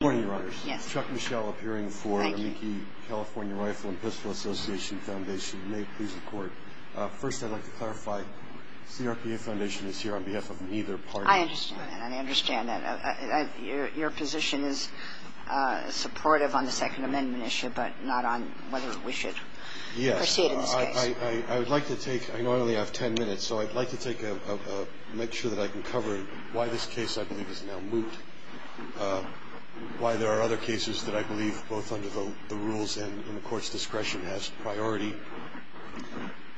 Good morning, Your Honor. Chuck Michel appearing for the Mickey California Rifle and Pistol Association Foundation. You may please record. First, I'd like to clarify, the CRPA Foundation is here on behalf of neither party. I understand that. I understand that. Your position is supportive on the Second Amendment issue, but not on whether we should proceed in this case. I would like to take, I know I only have 10 minutes, so I'd like to make sure that I can cover why this case I believe is now moot, why there are other cases that I believe, both under the rules and in the Court's discretion, has priority,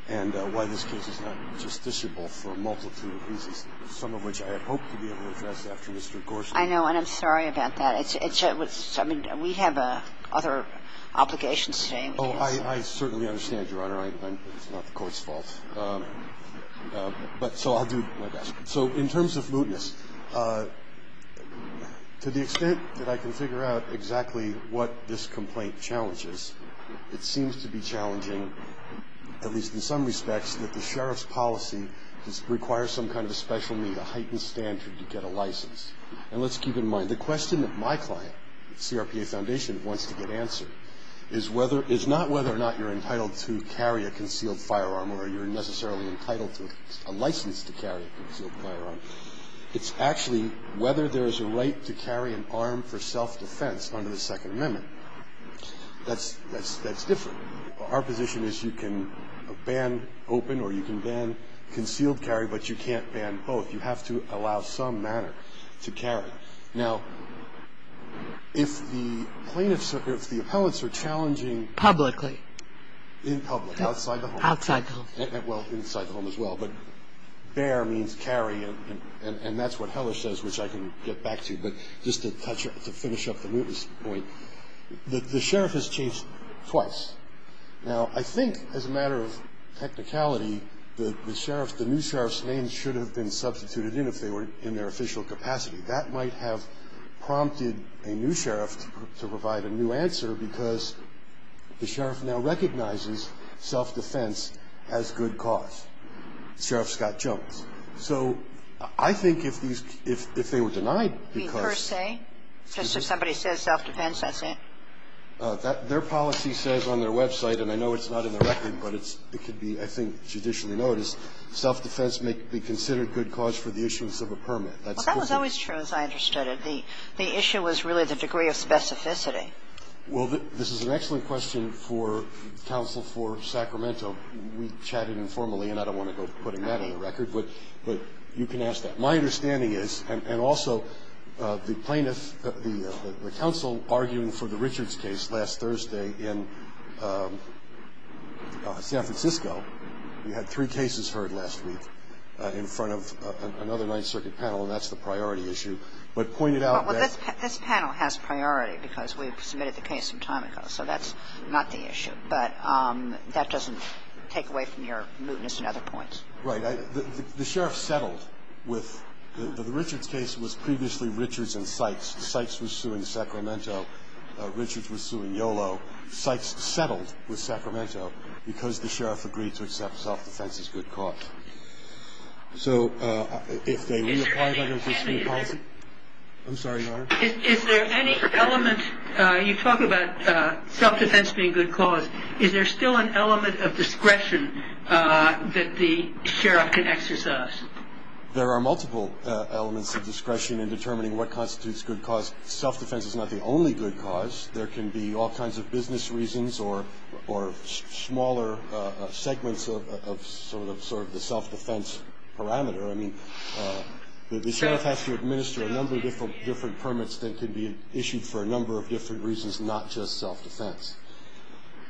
and why this case is not justiciable for a multitude of reasons, some of which I had hoped to be able to address after Mr. Gorsuch. I know, and I'm sorry about that. We have other obligations today. Oh, I certainly understand, Your Honor. It's not the Court's fault. But so I'll do my best. So in terms of mootness, to the extent that I can figure out exactly what this complaint challenges, it seems to be challenging, at least in some respects, that the Sheriff's policy requires some kind of a special need, a heightened standard to get a license. And let's keep in mind, the question that my client, CRPA Foundation, wants to get answered is not whether or not you're entitled to carry a concealed firearm or you're necessarily entitled to a license to carry a concealed firearm. It's actually whether there is a right to carry an arm for self-defense under the Second Amendment. That's different. Our position is you can ban open or you can ban concealed carry, but you can't ban both. You have to allow some manner to carry. Now, if the plaintiffs or if the appellants are challenging Publicly. In public, outside the home. Outside the home. Well, inside the home as well. But bare means carry, and that's what Heller says, which I can get back to. But just to finish up the mootness point, the Sheriff has changed twice. Now, I think as a matter of technicality, the Sheriff's, the new Sheriff's name should have been substituted in if they were in their official capacity. That might have prompted a new Sheriff to provide a new answer because the Sheriff now recognizes self-defense as good cause. Sheriff Scott Jones. So I think if these, if they were denied because. Per se? Just if somebody says self-defense, that's it? Their policy says on their website, and I know it's not in the record, but it's, it could be, I think, judicially noticed, self-defense may be considered good cause for the issuance of a permit. Well, that was always true as I understood it. The issue was really the degree of specificity. Well, this is an excellent question for counsel for Sacramento. We chatted informally, and I don't want to go putting that on the record, but you can ask that. My understanding is, and also the plaintiff, the counsel arguing for the Richards case last Thursday in San Francisco. We had three cases heard last week in front of another Ninth Circuit panel, and that's the priority issue. But pointed out that. Well, this panel has priority because we submitted the case some time ago, so that's not the issue. But that doesn't take away from your mootness and other points. Right. The sheriff settled with, the Richards case was previously Richards and Sykes. Sykes was suing Sacramento. Richards was suing YOLO. Sykes settled with Sacramento because the sheriff agreed to accept self-defense as good cause. So if they reapply that as a state policy. I'm sorry, Your Honor. Is there any element, you talk about self-defense being good cause. Is there still an element of discretion that the sheriff can exercise? There are multiple elements of discretion in determining what constitutes good cause. Self-defense is not the only good cause. There can be all kinds of business reasons or smaller segments of sort of the self-defense parameter. The sheriff has to administer a number of different permits that can be issued for a number of different reasons, not just self-defense.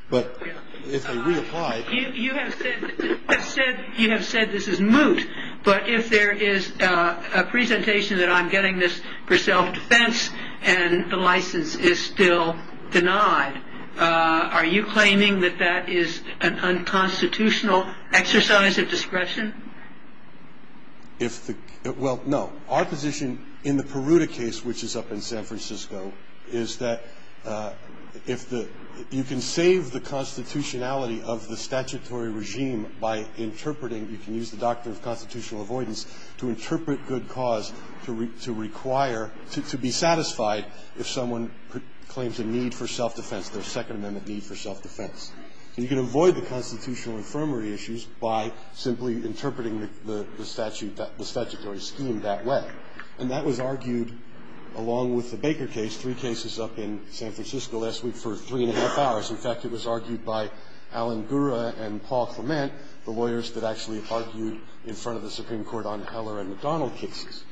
But if they reapply. You have said this is moot. But if there is a presentation that I'm getting this for self-defense and the license is still denied, are you claiming that that is an unconstitutional exercise of discretion? Well, no. Our position in the Peruta case, which is up in San Francisco, is that you can save the constitutionality of the statutory regime by interpreting. You can use the doctrine of constitutional avoidance to interpret good cause to require, to be satisfied if someone claims a need for self-defense, their Second Amendment need for self-defense. You can avoid the constitutional infirmary issues by simply interpreting the statutory scheme that way. And that was argued, along with the Baker case, three cases up in San Francisco last week for three and a half hours. In fact, it was argued by Alan Gura and Paul Clement, the lawyers that actually argued in front of the Supreme Court on Heller and McDonald cases.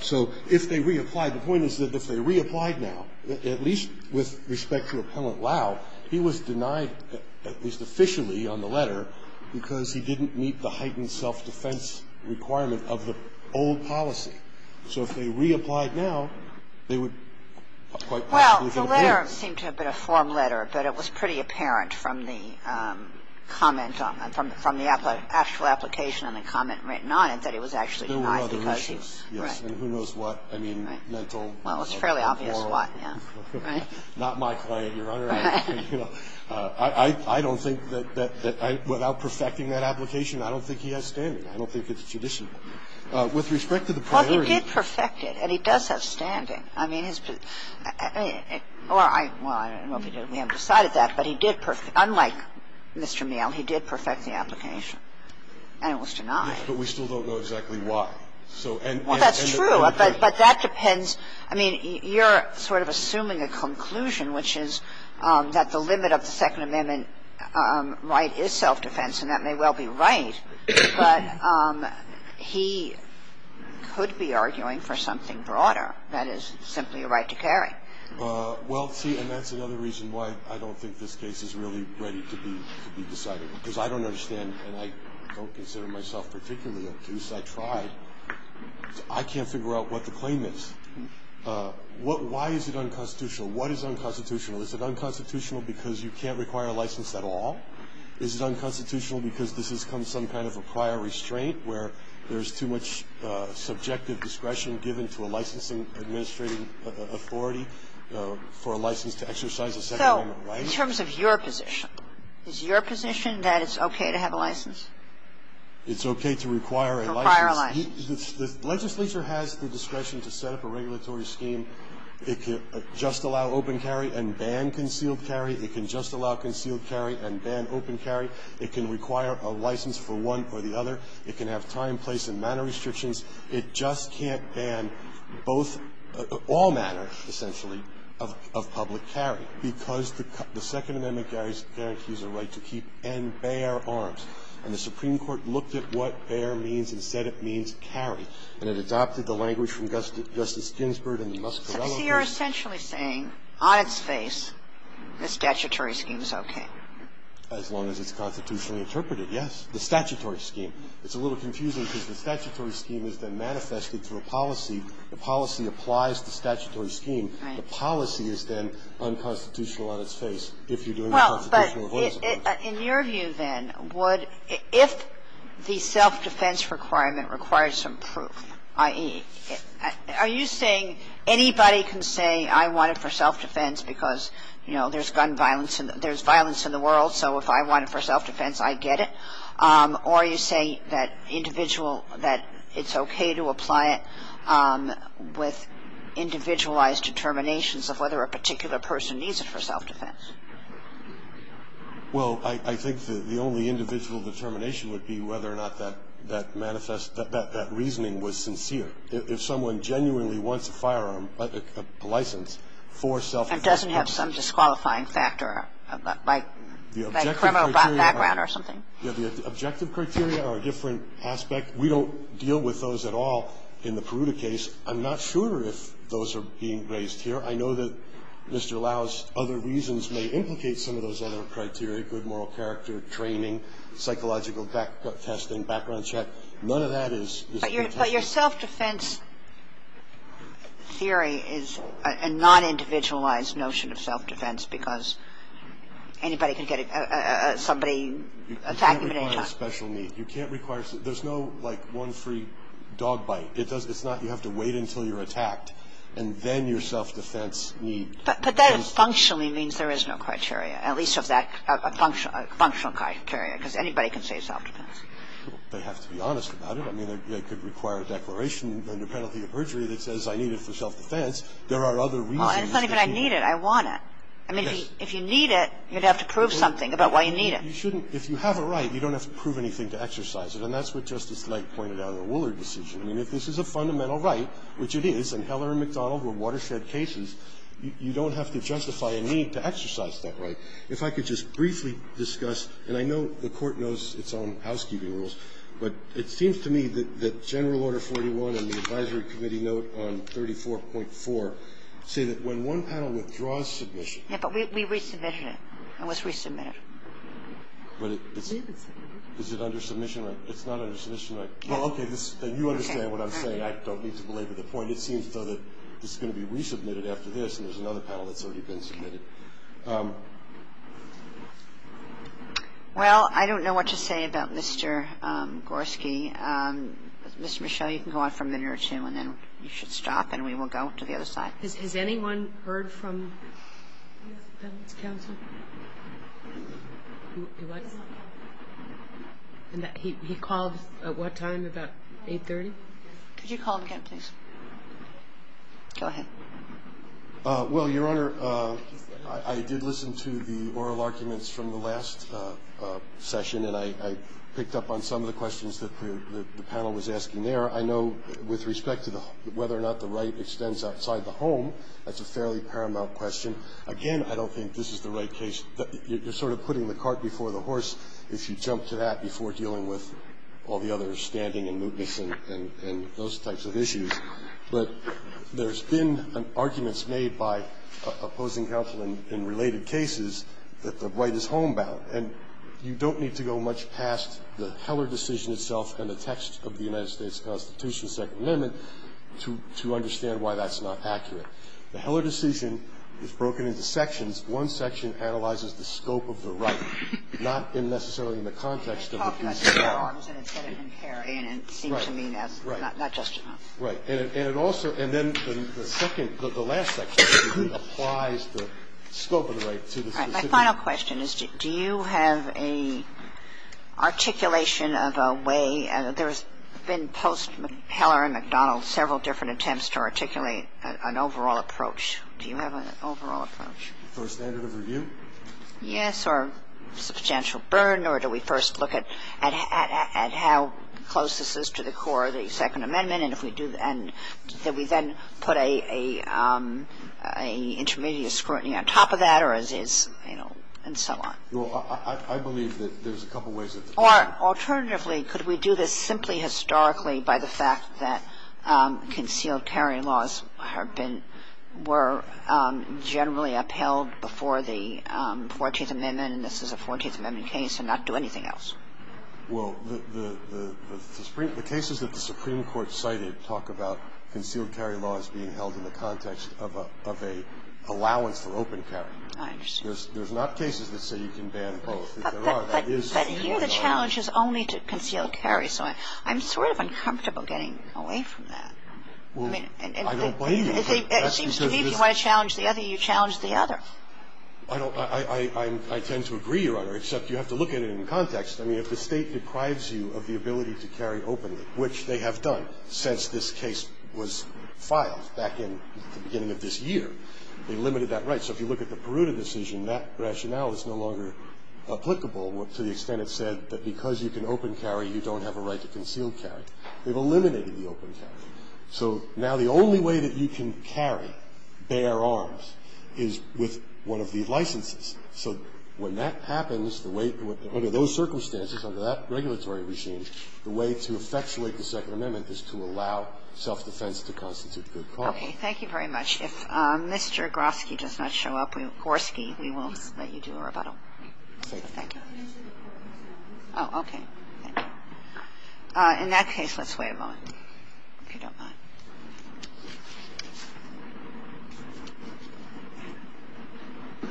So if they reapplied, the point is that if they reapplied now, at least with respect to Appellant Lau, he was denied, at least officially on the letter, because he didn't meet the heightened self-defense requirement of the old policy. So if they reapplied now, they would quite possibly get a win. Well, the letter seemed to have been a form letter, but it was pretty apparent from the comment on it, from the actual application and the comment written on it, that he was actually denied because he was. There were other issues, yes. Right. And who knows what. I mean, mental. Well, it's fairly obvious what, yes. Right. I don't think that without perfecting that application, I don't think he has standing. I don't think it's judicial. With respect to the priority. Well, he did perfect it, and he does have standing. I mean, his position. Well, I don't know if he did. We haven't decided that. But he did perfect it. Unlike Mr. Miele, he did perfect the application, and it was denied. Yes, but we still don't know exactly why. Well, that's true, but that depends. I mean, you're sort of assuming a conclusion, which is that the limit of the Second Amendment right is self-defense, and that may well be right, but he could be arguing for something broader. That is simply a right to carry. Well, see, and that's another reason why I don't think this case is really ready to be decided. Because I don't understand, and I don't consider myself particularly accused. I tried. I can't figure out what the claim is. Why is it unconstitutional? What is unconstitutional? Is it unconstitutional because you can't require a license at all? Is it unconstitutional because this has become some kind of a prior restraint where there's too much subjective discretion given to a licensing administrating authority for a license to exercise a Second Amendment right? So in terms of your position, is your position that it's okay to have a license? It's okay to require a license. Require a license. The legislature has the discretion to set up a regulatory scheme. It can just allow open carry and ban concealed carry. It can just allow concealed carry and ban open carry. It can require a license for one or the other. It can have time, place, and manner restrictions. It just can't ban both or all manner, essentially, of public carry because the Second Amendment guarantees a right to keep and bear arms. And the Supreme Court looked at what bear means and said it means carry. And it adopted the language from Justice Ginsburg and the Muscarelle case. So you're essentially saying on its face the statutory scheme is okay. As long as it's constitutionally interpreted, yes. The statutory scheme. It's a little confusing because the statutory scheme is then manifested through a policy. The policy applies to the statutory scheme. The policy is then unconstitutional on its face if you're doing a constitutional avoidance approach. Kagan. Yes. In your view, then, would ‑‑ if the self defense requirement requires some proof, i.e. are you saying anybody can say I want it for self defense because, you know, there's gun violence and there's violence in the world, so if I want it for self defense, I get it, or are you saying that individual, that it's okay to apply it with individualized determinations of whether a particular person needs it for self defense? Well, I think the only individual determination would be whether or not that manifest, that reasoning was sincere. If someone genuinely wants a firearm, a license for self defense. And doesn't have some disqualifying factor, like criminal background or something. The objective criteria are a different aspect. We don't deal with those at all in the Peruta case. I'm not sure if those are being raised here. I know that Mr. Lau's other reasons may implicate some of those other criteria, good moral character, training, psychological testing, background check. None of that is ‑‑ But your self defense theory is a non‑individualized notion of self defense because anybody can get a ‑‑ somebody attack you at any time. You can't require special need. You can't require ‑‑ there's no, like, one free dog bite. It's not you have to wait until you're attacked and then your self defense needs. But that functionally means there is no criteria, at least of that functional criteria, because anybody can say self defense. They have to be honest about it. I mean, they could require a declaration under penalty of perjury that says I need it for self defense. There are other reasons. It's not even I need it. I want it. I mean, if you need it, you'd have to prove something about why you need it. You shouldn't. If you have a right, you don't have to prove anything to exercise it. And that's what Justice Light pointed out in the Woolard decision. I mean, if this is a fundamental right, which it is, and Heller and McDonald were watershed cases, you don't have to justify a need to exercise that right. If I could just briefly discuss, and I know the Court knows its own housekeeping rules, but it seems to me that General Order 41 and the Advisory Committee note on 34.4 say that when one panel withdraws submission ‑‑ Ginsburg. Yeah, but we resubmitted it. It was resubmitted. But it's ‑‑ We resubmitted it. Is it under submission right? It's not under submission right. Well, okay. You understand what I'm saying. I don't need to belabor the point. It seems, though, that this is going to be resubmitted after this, and there's another panel that's already been submitted. Well, I don't know what to say about Mr. Gorski. Ms. Michelle, you can go on for a minute or two, and then you should stop, and we will go to the other side. Has anyone heard from the panel's counsel? He called at what time? About 830? Could you call again, please? Go ahead. Well, Your Honor, I did listen to the oral arguments from the last session, and I picked up on some of the questions that the panel was asking there. I know with respect to whether or not the right extends outside the home, that's a fairly paramount question. Again, I don't think this is the right case. You're sort of putting the cart before the horse if you jump to that before dealing with all the other standing and mootness and those types of issues. But there's been arguments made by opposing counsel in related cases that the right is homebound, and you don't need to go much past the Heller decision itself and the text of the United States Constitution, Second Amendment, to understand why that's not accurate. The Heller decision is broken into sections. One section analyzes the scope of the right, not necessarily in the context of the piece of law. Right. Right. And it also, and then the second, the last section applies the scope of the right to the specific. All right. My final question is, do you have an articulation of a way? There's been post-Heller and McDonald several different attempts to articulate an overall approach. Do you have an overall approach? For a standard of review? Yes. Or substantial burden, or do we first look at how close this is to the core of the Second Amendment, and if we do, and then we then put a intermediate scrutiny on top of that, or is it, you know, and so on? Well, I believe that there's a couple ways that the court could do that. Or alternatively, could we do this simply historically by the fact that concealed carry laws have been, were generally upheld before the 14th Amendment, and this is a 14th Amendment case, and not do anything else? Well, the cases that the Supreme Court cited talk about concealed carry laws being held in the context of an allowance for open carry. I understand. There's not cases that say you can ban both. But here the challenge is only to conceal carry. So I'm sort of uncomfortable getting away from that. Well, I don't blame you. It seems to me if you want to challenge the other, you challenge the other. I don't. I tend to agree, Your Honor, except you have to look at it in context. I mean, if the State deprives you of the ability to carry openly, which they have done since this case was filed back in the beginning of this year, they limited that right. So if you look at the Peruta decision, that rationale is no longer applicable to the extent it said that because you can open carry, you don't have a right to conceal carry. They've eliminated the open carry. So now the only way that you can carry bare arms is with one of the licenses. So when that happens, under those circumstances, under that regulatory regime, the way to effectuate the Second Amendment is to allow self-defense to constitute good cause. Okay. Thank you very much. If Mr. Groski does not show up, Gorski, we won't let you do a rebuttal. Thank you. Thank you. Oh, okay. Thank you. In that case, let's wait a moment, if you don't mind. Okay.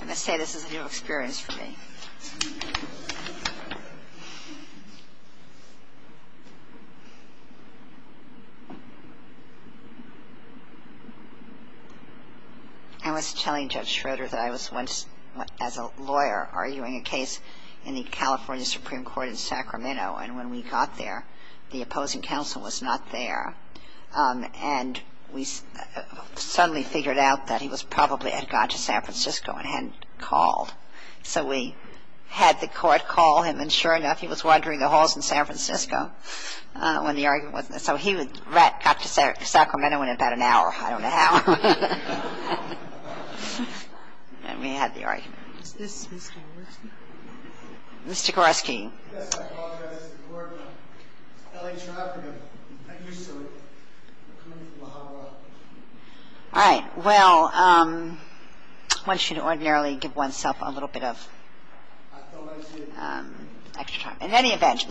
I must say this is a new experience for me. I was telling Judge Schroeder that I was once, as a lawyer, arguing a case in the California Supreme Court in Sacramento, and when we got there, the opposing was probably had gone to San Francisco and hadn't called. So we had the court call him, and sure enough, he was wandering the halls in San Francisco when the argument was. So he got to Sacramento in about an hour. I don't know how. And we had the argument. Mr. Groski. Yes, I apologize. We're from L.A. traffic. I'm used to it. I'm coming from La Jolla. All right. Well, I want you to ordinarily give oneself a little bit of extra time. In any event,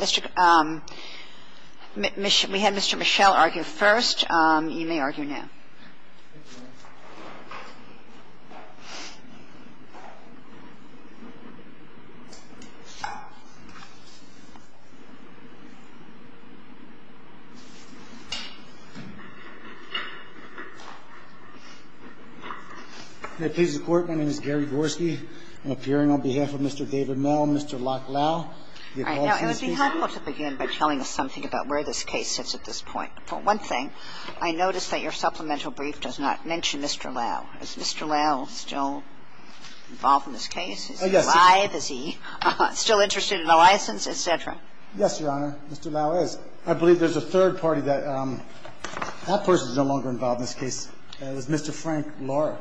we had Mr. Michelle argue first. You may argue now. Mr. Groski, please. I'm appearing on behalf of Mr. David Mel, and Mr. Lock Lowe. It would be helpful to begin by telling us something about where this case sits at this point. One thing, I noticed that your supplemental brief does not mention Mr. Lowe. Is Mr. Lowe still involved in this case? Yes. Is he still interested in the license, et cetera? Yes, Your Honor. Mr. Lowe is. I believe there's a third party that that person is no longer involved in this case. It was Mr. Frank Flores.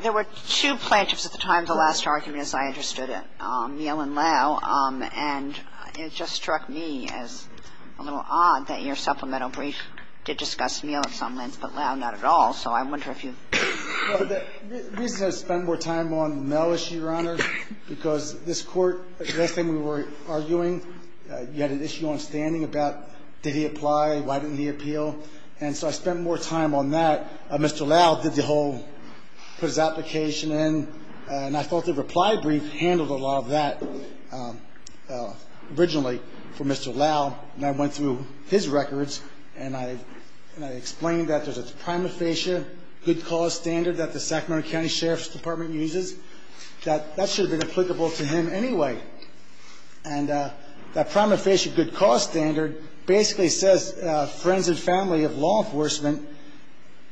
There were two plaintiffs at the time of the last argument, as I understood it, Miel and Lowe. And it just struck me as a little odd that your supplemental brief did discuss Miel at some length, but Lowe not at all. So I wonder if you The reason I spent more time on Mel issue, Your Honor, because this Court, last time we were arguing, you had an issue on standing about did he apply, why didn't he appeal. And so I spent more time on that. Mr. Lowe did the whole, put his application in, and I thought the reply brief handled a lot of that originally for Mr. Lowe. And I went through his records, and I explained that there's a prima facie good cause standard that the Sacramento County Sheriff's Department uses, that that should have been applicable to him anyway. And that prima facie good cause standard basically says friends and family of law enforcement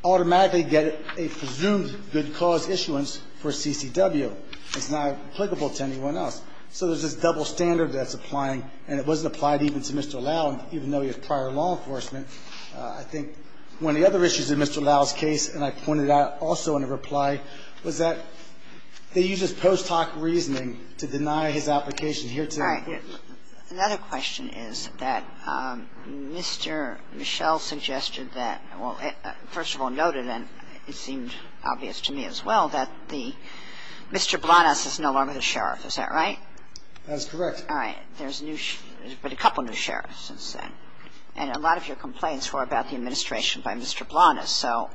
automatically get a presumed good cause issuance for CCW. It's not applicable to anyone else. So there's this double standard that's applying, and it wasn't applied even to Mr. Lowe, even though he was prior law enforcement. I think one of the other issues in Mr. Lowe's case, and I pointed out also in a reply, was that they use his post hoc reasoning to deny his application here today. All right. Another question is that Mr. Michelle suggested that, well, first of all, noted, and it seemed obvious to me as well, that the Mr. Blanas is no longer the sheriff. Is that right? That's correct. All right. There's a new, there's been a couple new sheriffs since then. And a lot of your complaints were about the administration by Mr. Blanas. So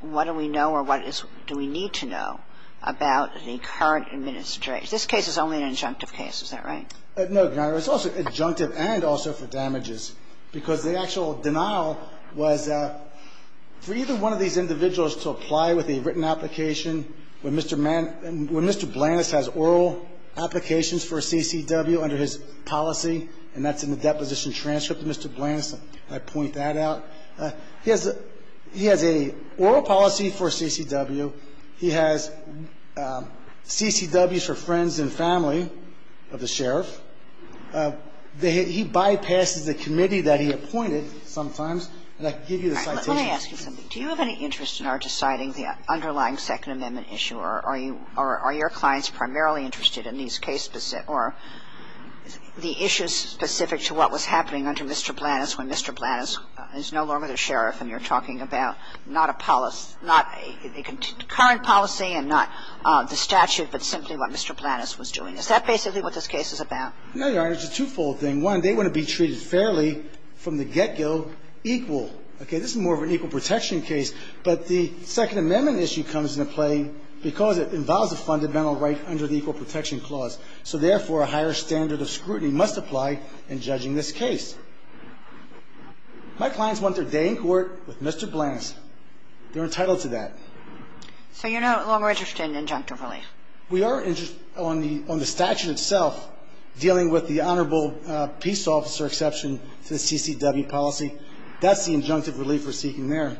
what do we know or what do we need to know about the current administration? This case is only an injunctive case. Is that right? No, Your Honor. It's also injunctive and also for damages, because the actual denial was for either one of these individuals to apply with a written application. When Mr. Blanas has oral applications for a CCW under his policy, and that's in the deposition transcript of Mr. Blanas, and I point that out, he has a oral policy for CCW. He has CCWs for friends and family of the sheriff. He bypasses the committee that he appointed sometimes. And I can give you the citation. All right. Let me ask you something. Do you have any interest in our deciding the underlying Second Amendment issue, or are your clients primarily interested in these cases or the issues specific to what was happening under Mr. Blanas when Mr. Blanas is no longer the sheriff and you're talking about not a policy, not a current policy and not the statute, but simply what Mr. Blanas was doing? Is that basically what this case is about? No, Your Honor. It's a twofold thing. One, they want to be treated fairly from the get-go, equal. Okay? This is more of an equal protection case. But the Second Amendment issue comes into play because it involves a fundamental right under the Equal Protection Clause. So, therefore, a higher standard of scrutiny must apply in judging this case. My clients want their day in court with Mr. Blanas. They're entitled to that. So you're no longer interested in injunctive relief? We are interested on the statute itself, dealing with the honorable peace officer exception to the CCW policy. That's the injunctive relief we're seeking there.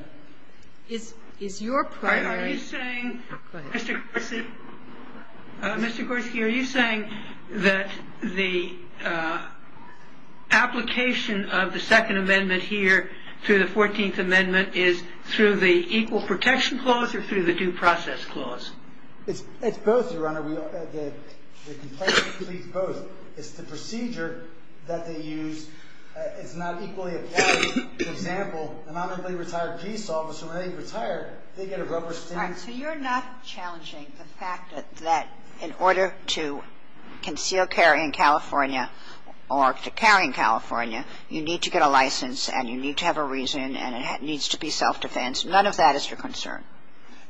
Is your primary ---- Are you saying, Mr. Gorski, are you saying that the application of the Second Amendment here through the 14th Amendment is through the Equal Protection Clause or through the Due Process Clause? It's both, Your Honor. The complaint completes both. It's the procedure that they use. It's not equally applied. For example, an honorably retired peace officer, when they retire, they get a rubber stamp. All right. So you're not challenging the fact that in order to conceal carry in California or to carry in California, you need to get a license and you need to have a reason and it needs to be self-defense. None of that is your concern.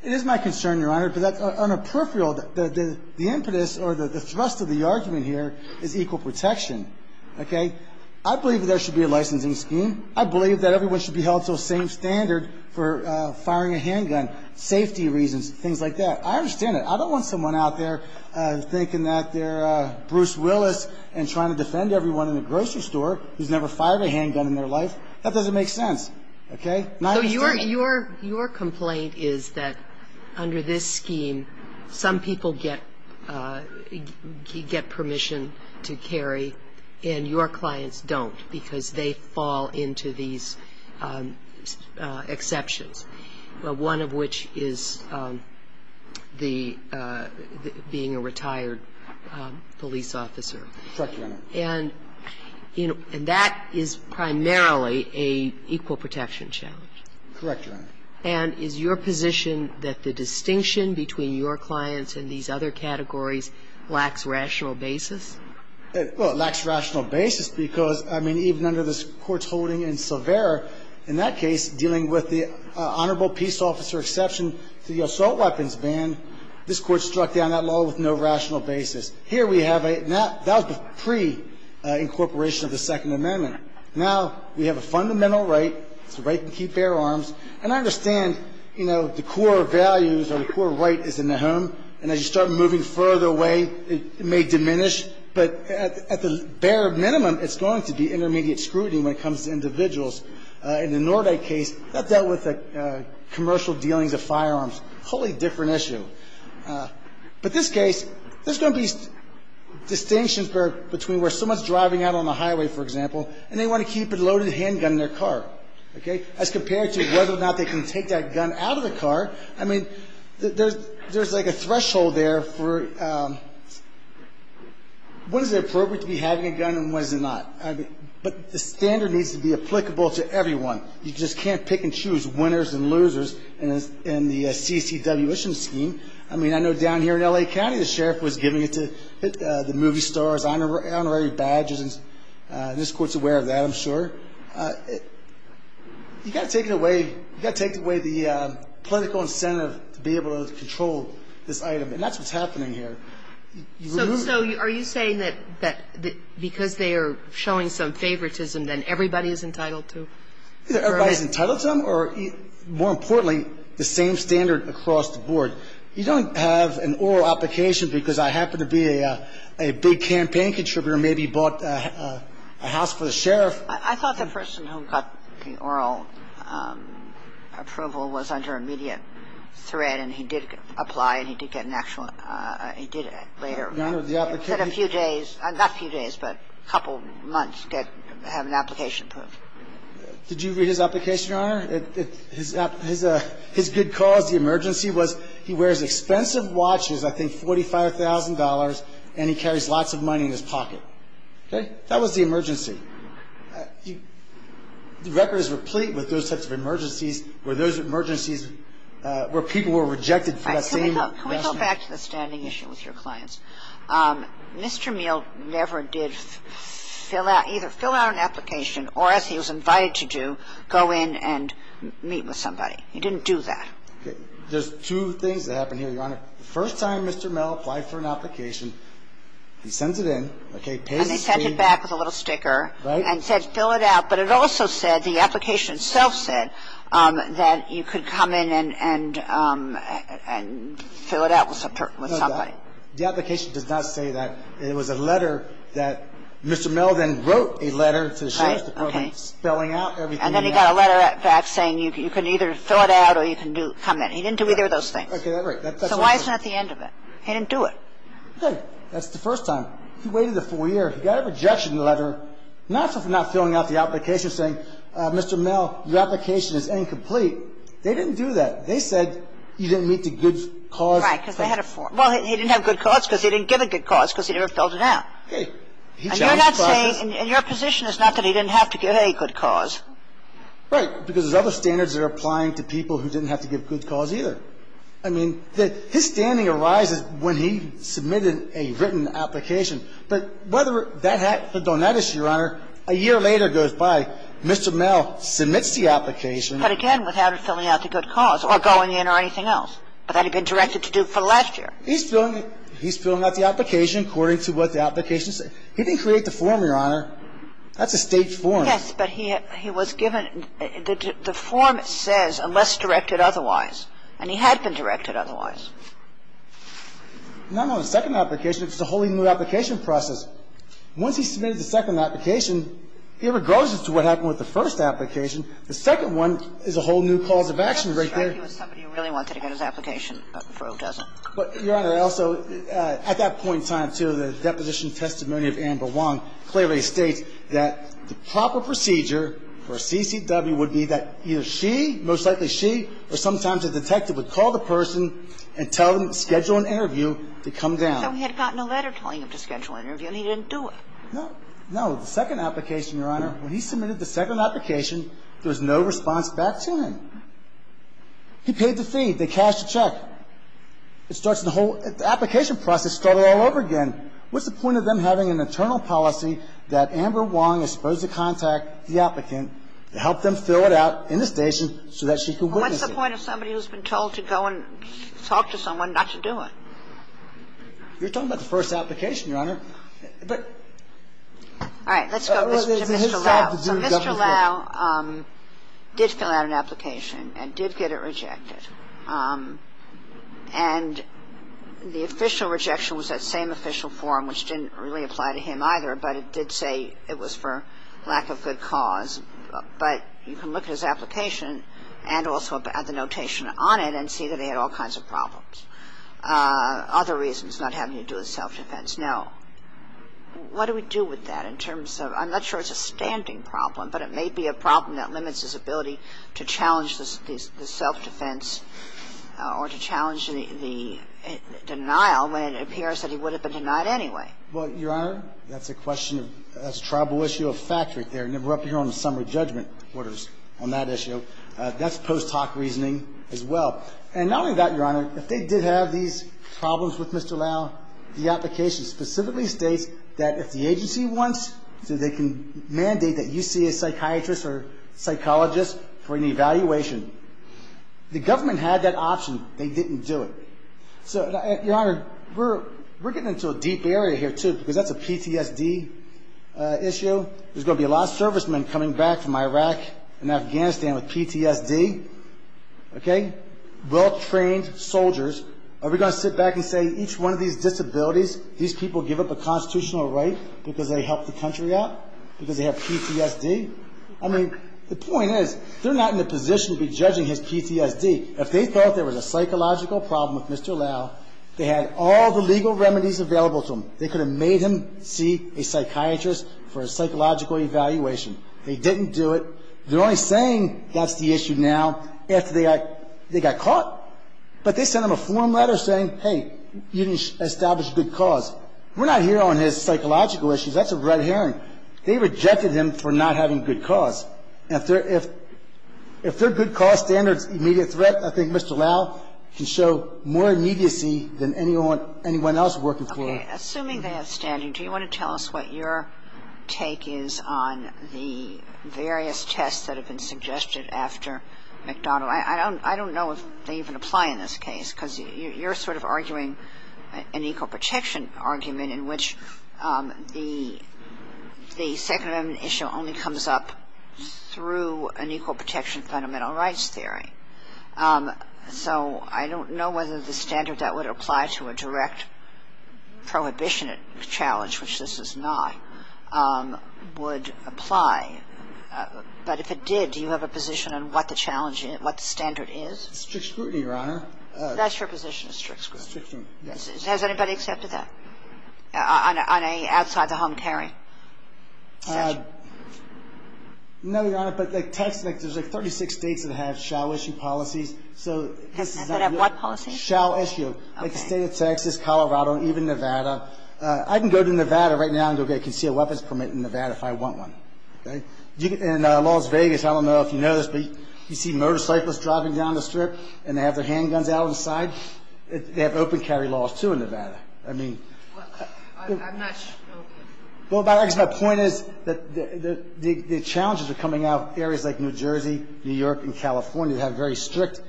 It is my concern, Your Honor. But on a peripheral, the impetus or the thrust of the argument here is equal protection. Okay? I believe that there should be a licensing scheme. I believe that everyone should be held to the same standard for firing a handgun, safety reasons, things like that. I understand that. I don't want someone out there thinking that they're Bruce Willis and trying to defend everyone in the grocery store who's never fired a handgun in their life. That doesn't make sense. Okay? My understanding ---- Your complaint is that under this scheme, some people get permission to carry and your clients don't because they fall into these exceptions, one of which is being a retired police officer. Correct, Your Honor. And that is primarily an equal protection challenge. Correct, Your Honor. And is your position that the distinction between your clients and these other categories lacks rational basis? Well, it lacks rational basis because, I mean, even under this Court's holding in Silvera, in that case, dealing with the honorable peace officer exception to the assault weapons ban, this Court struck down that law with no rational basis. Here we have a ---- that was pre-incorporation of the Second Amendment. Now we have a fundamental right. It's the right to keep bare arms. And I understand, you know, the core values or the core right is in the home. And as you start moving further away, it may diminish. But at the bare minimum, it's going to be intermediate scrutiny when it comes to individuals. In the Nordyke case, that dealt with the commercial dealings of firearms, a wholly different issue. But this case, there's going to be distinctions between where someone's driving out on the highway, for example, and they want to keep a loaded handgun in their car. Okay? As compared to whether or not they can take that gun out of the car, I mean, there's like a threshold there for when is it appropriate to be having a gun and when is it not. But the standard needs to be applicable to everyone. You just can't pick and choose winners and losers in the CCW issue scheme. I mean, I know down here in L.A. County, the sheriff was giving it to the movie stars, honorary badges, and this court's aware of that, I'm sure. You've got to take it away. You've got to take away the political incentive to be able to control this item. And that's what's happening here. So are you saying that because they are showing some favoritism, that everybody is entitled to? Either everybody's entitled to them or, more importantly, the same standard across the board. You don't have an oral application because I happen to be a big campaign contributor and maybe bought a house for the sheriff. I thought the person who got the oral approval was under immediate threat and he did apply and he did get an actual ‑‑ he did later. No, no, the application ‑‑ Not a few days, but a couple months to have an application approved. Did you read his application, Your Honor? His good cause, the emergency, was he wears expensive watches, I think $45,000, and he carries lots of money in his pocket. Okay? That was the emergency. The record is replete with those types of emergencies where those emergencies where people were rejected for that same reason. Can we go back to the standing issue with your clients? Mr. Meehl never did either fill out an application or, as he was invited to do, go in and meet with somebody. He didn't do that. There's two things that happened here, Your Honor. The first time Mr. Meehl applied for an application, he sends it in, okay, pays the fee. And they sent it back with a little sticker and said fill it out, but it also said, the application itself said that you could come in and fill it out with somebody. The application does not say that. It was a letter that Mr. Meehl then wrote a letter to the sheriff's department spelling out everything. And then he got a letter back saying you can either fill it out or you can come in. He didn't do either of those things. So why isn't that the end of it? He didn't do it. Okay. That's the first time. He waited a full year. He got a rejection letter not for not filling out the application saying, Mr. Meehl, your application is incomplete. They didn't do that. They said you didn't meet the good cause. Right, because they had a form. Well, he didn't have good cause because he didn't give a good cause because he never filled it out. Okay. And you're not saying, and your position is not that he didn't have to give any good cause. Right, because there's other standards that are applying to people who didn't have to give good cause either. I mean, his standing arises when he submitted a written application. But whether that had to go on that issue, Your Honor, a year later goes by, Mr. Meehl submits the application. But again, without filling out the good cause or going in or anything else. But that had been directed to do for the last year. He's filling out the application according to what the application says. He didn't create the form, Your Honor. That's a State form. Yes, but he was given the form says unless directed otherwise. And he had been directed otherwise. Not on the second application. It's a wholly new application process. Once he submitted the second application, here it goes as to what happened with the first application. The second one is a whole new cause of action right there. It doesn't describe him as somebody who really wanted to get his application, but Froe doesn't. But, Your Honor, I also, at that point in time, too, the deposition testimony of Amber Wong clearly states that the proper procedure for a CCW would be that either she, most likely she, or sometimes a detective, would call the person and tell them to schedule an interview to come down. So he had gotten a letter telling him to schedule an interview, and he didn't do it. No. No. The second application, Your Honor, when he submitted the second application, there was no response back to him. He paid the fee. They cashed the check. It starts the whole application process started all over again. What's the point of them having an internal policy that Amber Wong is supposed to contact the applicant to help them fill it out in the station so that she can witness it? What's the point of somebody who's been told to go and talk to someone not to do it? You're talking about the first application, Your Honor. All right. Let's go to Mr. Lau. So Mr. Lau did fill out an application and did get it rejected. And the official rejection was that same official form, which didn't really apply to him either, but it did say it was for lack of good cause. But you can look at his application and also at the notation on it and see that he had all kinds of problems. Other reasons not having to do with self-defense. Now, what do we do with that in terms of – I'm not sure it's a standing problem, but it may be a problem that limits his ability to challenge the self-defense or to challenge the denial when it appears that he would have been denied anyway. Well, Your Honor, that's a question of – that's a tribal issue of fact right there. And we're up here on the summer judgment orders on that issue. That's post hoc reasoning as well. And not only that, Your Honor, if they did have these problems with Mr. Lau, the application specifically states that if the agency wants, so they can mandate that you see a psychiatrist or psychologist for an evaluation. The government had that option. They didn't do it. So, Your Honor, we're getting into a deep area here too because that's a PTSD issue. There's going to be a lot of servicemen coming back from Iraq and Afghanistan with PTSD, okay, well-trained soldiers. Are we going to sit back and say each one of these disabilities, these people give up a constitutional right because they help the country out, because they have PTSD? I mean, the point is they're not in a position to be judging his PTSD. If they thought there was a psychological problem with Mr. Lau, they had all the legal remedies available to them. They could have made him see a psychiatrist for a psychological evaluation. They didn't do it. They're only saying that's the issue now after they got caught. But they sent him a form letter saying, hey, you didn't establish a good cause. We're not here on his psychological issues. That's a red herring. They rejected him for not having a good cause. And if their good cause standards immediate threat, I think Mr. Lau can show more immediacy than anyone else working for him. Assuming they have standing, do you want to tell us what your take is on the various tests that have been suggested after McDonnell? I don't know if they even apply in this case because you're sort of arguing an equal protection argument in which the Second Amendment issue only comes up through an equal protection fundamental rights theory. So I don't know whether the standard that would apply to a direct prohibition challenge, which this does not, would apply. But if it did, do you have a position on what the challenge is, what the standard is? Strict scrutiny, Your Honor. That's your position, strict scrutiny. Strict scrutiny, yes. Has anybody accepted that on a outside-the-home hearing? No, Your Honor, but Texas, there's like 36 states that have shall-issue policies. Does it have what policies? Shall-issue. Like the state of Texas, Colorado, even Nevada. I can go to Nevada right now and go get a concealed weapons permit in Nevada if I want one. In Las Vegas, I don't know if you know this, but you see motorcyclists driving down the strip and they have their handguns out on the side. They have open-carry laws, too, in Nevada. I mean... I'm not sure. Well, I guess my point is that the challenges are coming out of areas like New Jersey, New York, and California that have very strict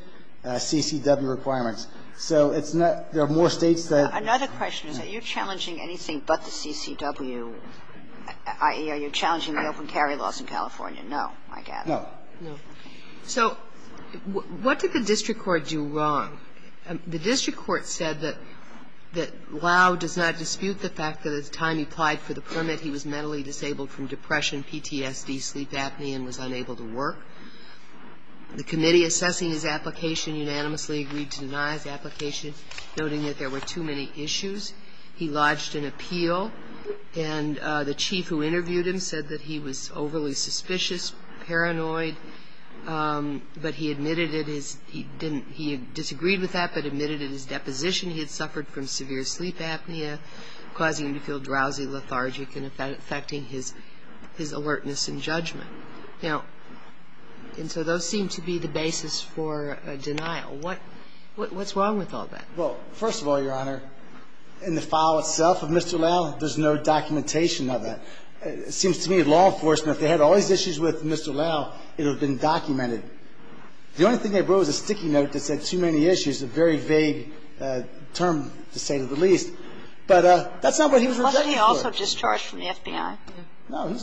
CCW requirements. So it's not ñ there are more states that... Another question is that you're challenging anything but the CCW, i.e., are you challenging the open-carry laws in California? No, I gather. No. No. So what did the district court do wrong? The district court said that Lau does not dispute the fact that at the time he applied for the permit, he was mentally disabled from depression, PTSD, sleep apnea, and was unable to work. The committee assessing his application unanimously agreed to deny his application, noting that there were too many issues. He lodged an appeal, and the chief who interviewed him said that he was overly suspicious, paranoid, but he admitted it is ñ he didn't ñ he disagreed with that, but admitted in his deposition he had suffered from severe sleep apnea, causing him to feel drowsy, lethargic, and affecting his alertness and judgment. Now, and so those seem to be the basis for a denial. What's wrong with all that? Well, first of all, Your Honor, in the file itself of Mr. Lau, there's no documentation of that. It seems to me that law enforcement, if they had all these issues with Mr. Lau, it would have been documented. The only thing they brought was a sticky note that said too many issues, a very vague term, to say the least. But that's not what he was rejected for. Wasn't he also discharged from the FBI? No.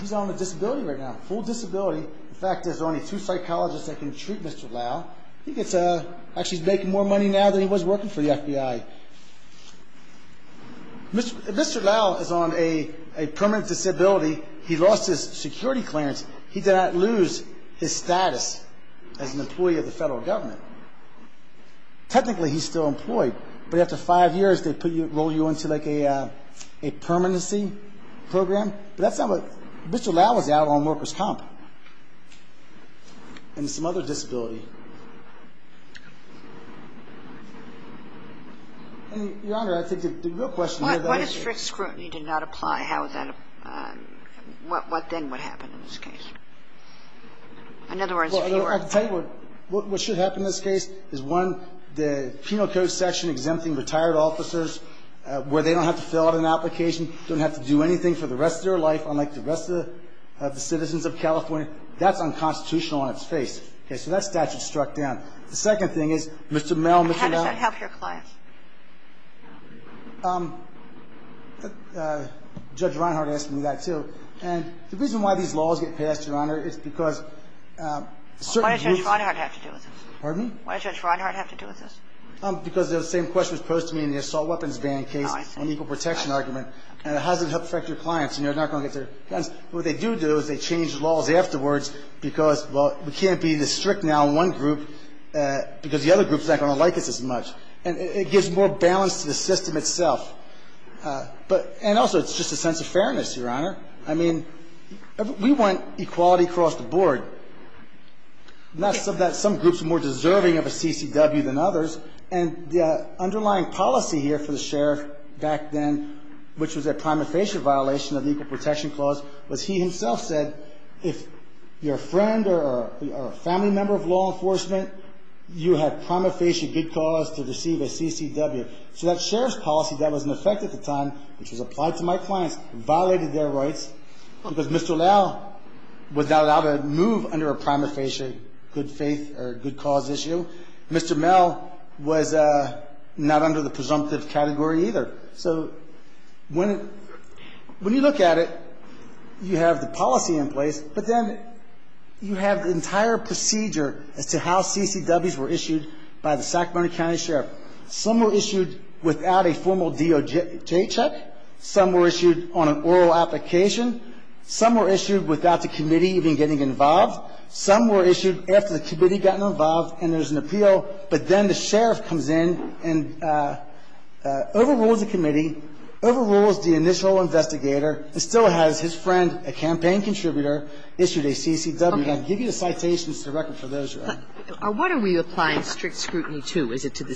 He's on a disability right now, a full disability. In fact, there's only two psychologists that can treat Mr. Lau. He gets ñ actually, he's making more money now than he was working for the FBI. Mr. Lau is on a permanent disability. He lost his security clearance. He did not lose his status as an employee of the federal government. Technically, he's still employed. But after five years, they put you ñ roll you into, like, a permanency program. But that's not what ñ Mr. Lau was out on workers' comp and some other disability. Your Honor, I think the real question ñ What if strict scrutiny did not apply? How would that ñ what then would happen in this case? In other words, if you were ñ Well, I can tell you what should happen in this case is, one, the penal code section exempting retired officers where they don't have to fill out an application, don't have to do anything for the rest of their life, unlike the rest of the citizens of California. That's unconstitutional on its face. Okay? So that statute's struck down. The second thing is, Mr. Mel ñ And how does that help your clients? Judge Reinhardt asked me that, too. And the reason why these laws get passed, Your Honor, is because certain groups ñ Why does Judge Reinhardt have to do with this? Pardon? Why does Judge Reinhardt have to do with this? Because the same question was posed to me in the assault weapons ban case ñ Oh, I see. ñ on the equal protection argument. And how does it help protect your clients when you're not going to get their guns? What they do do is they change the laws afterwards because, well, we can't be this strict now on one group because the other group's not going to like us as much. And it gives more balance to the system itself. But ñ and also it's just a sense of fairness, Your Honor. I mean, we want equality across the board, not so that some groups are more deserving of a CCW than others. And the underlying policy here for the sheriff back then, which was a prima facie violation of the equal protection clause, was he himself said, if you're a friend or a family member of law enforcement, you have prima facie good cause to receive a CCW. So that sheriff's policy that was in effect at the time, which was applied to my clients, violated their rights because Mr. Lau was not allowed to move under a prima facie good faith or good cause issue. Mr. Mel was not under the presumptive category either. So when ñ when you look at it, you have the policy in place, but then you have the entire procedure as to how CCWs were issued by the Sacramento County Sheriff. Some were issued without a formal DOJ check. Some were issued on an oral application. Some were issued without the committee even getting involved. Some were issued after the committee had gotten involved and there's an appeal, but then the sheriff comes in and overrules the committee, overrules the initial investigator, and still has his friend, a campaign contributor, issued a CCW. I can give you the citations to the record for those, Your Honor. What are we applying strict scrutiny to? Is it to the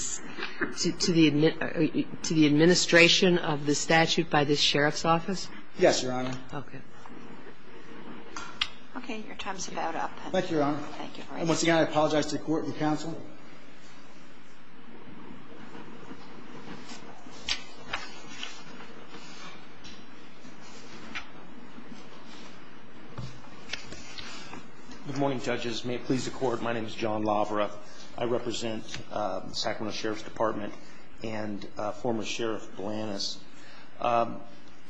ñ to the administration of the statute by the sheriff's office? Yes, Your Honor. Okay. Your time is about up. Thank you, Your Honor. Thank you. And once again, I apologize to the court and counsel. Good morning, judges. May it please the court, my name is John Lavera. I represent the Sacramento Sheriff's Department and former Sheriff Balanus.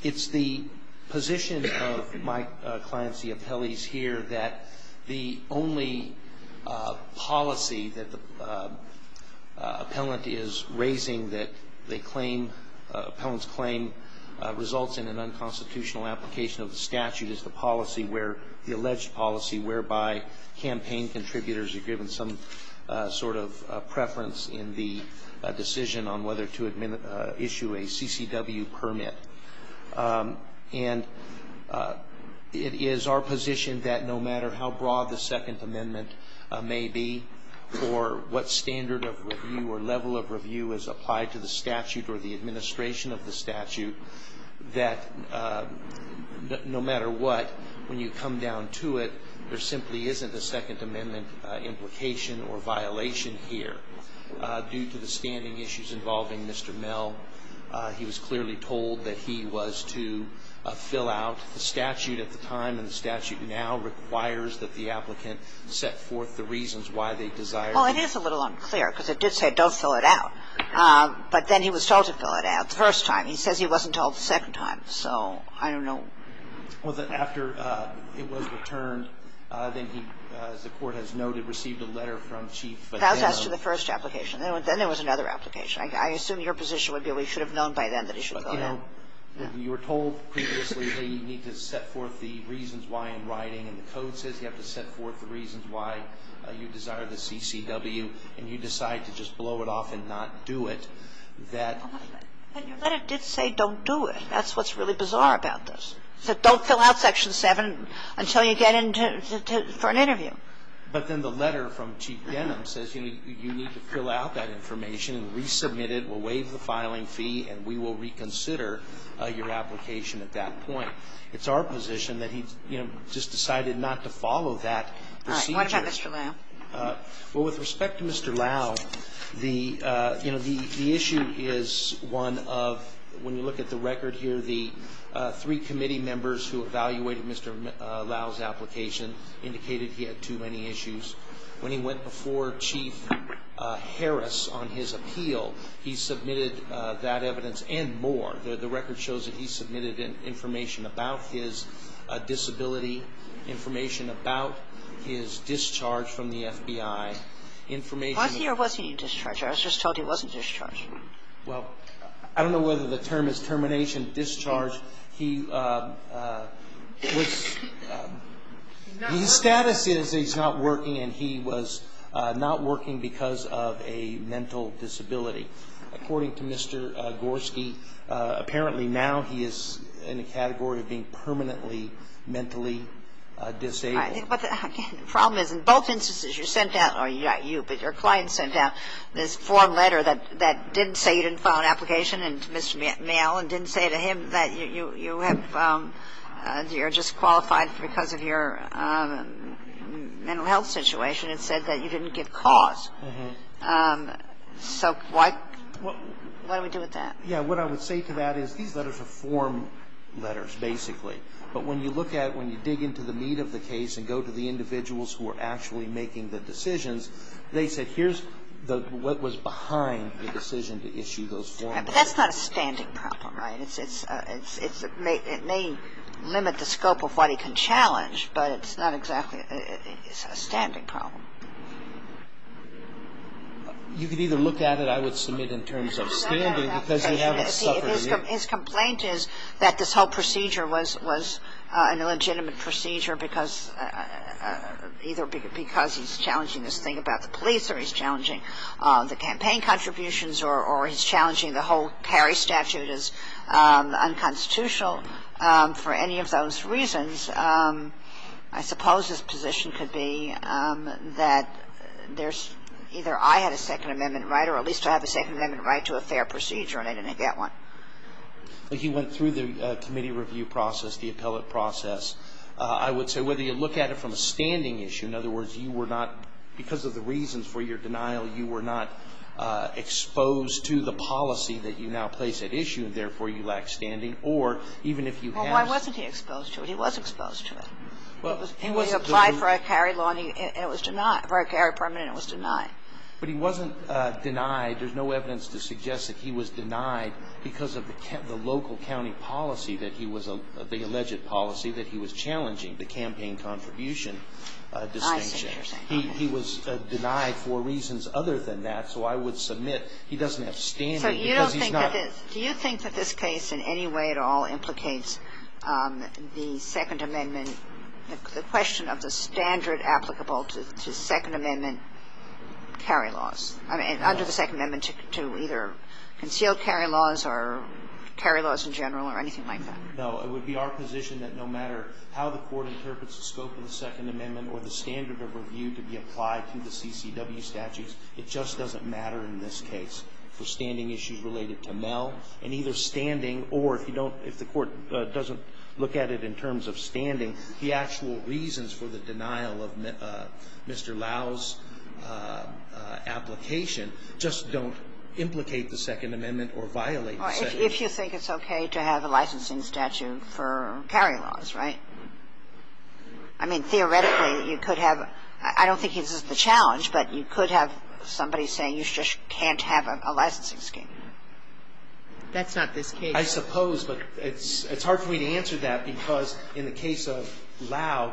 It's the position of my clients, the appellees here, that the only policy that the appellant is raising that they claim ñ appellant's claim results in an unconstitutional application of the statute is the policy where ñ the alleged policy whereby campaign contributors are given some sort of preference in the decision on whether to issue a CCW permit. And it is our position that no matter how broad the Second Amendment may be or what standard of review or level of review is applied to the statute or the administration of the statute, that no matter what, when you come down to it, there simply isn't a Second Amendment implication or violation here due to the standing issues involving Mr. And I'm not aware of any other case where the appellant was clearly told that he was to fill out the statute at the time and the statute now requires that the applicant set forth the reasons why they desired to. Well, it is a little unclear because it did say don't fill it out. But then he was told to fill it out the first time. He says he wasn't told the second time. So I don't know. Well, then after it was returned, then he, as the court has noted, received a letter from Chief. That was as to the first application. Then there was another application. I assume your position would be we should have known by then that he should fill it out. But, you know, you were told previously, hey, you need to set forth the reasons why in writing. And the code says you have to set forth the reasons why you desire the CCW. And you decide to just blow it off and not do it. But your letter did say don't do it. That's what's really bizarre about this. It said don't fill out Section 7 until you get in for an interview. But then the letter from Chief Denham says you need to fill out that information and resubmit it. We'll waive the filing fee and we will reconsider your application at that point. It's our position that he, you know, just decided not to follow that procedure. All right. What about Mr. Lau? Well, with respect to Mr. Lau, the, you know, the issue is one of when you look at the record here, the three committee members who evaluated Mr. Lau's application indicated he had too many issues. When he went before Chief Harris on his appeal, he submitted that evidence and more. The record shows that he submitted information about his disability, information about his discharge from the FBI, information of his own. Was he or wasn't he discharged? I was just told he wasn't discharged. Well, I don't know whether the term is termination, discharge. He was, his status is he's not working and he was not working because of a mental disability. According to Mr. Gorski, apparently now he is in a category of being permanently mentally disabled. The problem is in both instances you sent out, or not you, but your client sent out this didn't say you didn't file an application to Mr. Mayall and didn't say to him that you have, you're disqualified because of your mental health situation and said that you didn't get cause. So what do we do with that? Yeah, what I would say to that is these letters are form letters, basically. But when you look at, when you dig into the meat of the case and go to the individuals who are actually making the decisions, they said here's what was behind the decision to issue those form letters. But that's not a standing problem, right? It may limit the scope of what he can challenge, but it's not exactly, it's a standing problem. You could either look at it, I would submit in terms of standing because you haven't suffered. His complaint is that this whole procedure was an illegitimate procedure because, either because he's challenging this thing about the police or he's challenging the campaign contributions or he's challenging the whole Cary statute is unconstitutional. For any of those reasons, I suppose his position could be that there's, either I had a Second Amendment right or at least I have a Second Amendment right to a fair procedure and I didn't get one. But he went through the committee review process, the appellate process. I would say whether you look at it from a standing issue, in other words, you were not, because of the reasons for your denial, you were not exposed to the policy that you now place at issue and therefore you lack standing, or even if you have. Well, why wasn't he exposed to it? He was exposed to it. He applied for a Cary law and it was denied, for a Cary permit and it was denied. But he wasn't denied. There's no evidence to suggest that he was denied because of the local county policy that he was, the alleged policy that he was challenging, the campaign contribution distinction. He was denied for reasons other than that, so I would submit he doesn't have standing because he's not. So you don't think that this, do you think that this case in any way at all implicates the Second Amendment, the question of the standard applicable to Second Amendment Cary laws? I mean, under the Second Amendment to either concealed Cary laws or Cary laws in general or anything like that? No. It would be our position that no matter how the Court interprets the scope of the Second Amendment or the standard of review to be applied to the CCW statutes, it just doesn't matter in this case for standing issues related to Mel and either standing or if you don't, if the Court doesn't look at it in terms of standing, the actual reasons for the denial of Mr. Lau's application just don't implicate the Second Amendment or violate the Second Amendment. If you think it's okay to have a licensing statute for Cary laws, right? I mean, theoretically, you could have, I don't think this is the challenge, but you could have somebody saying you just can't have a licensing scheme. That's not this case. I suppose, but it's hard for me to answer that because in the case of Lau,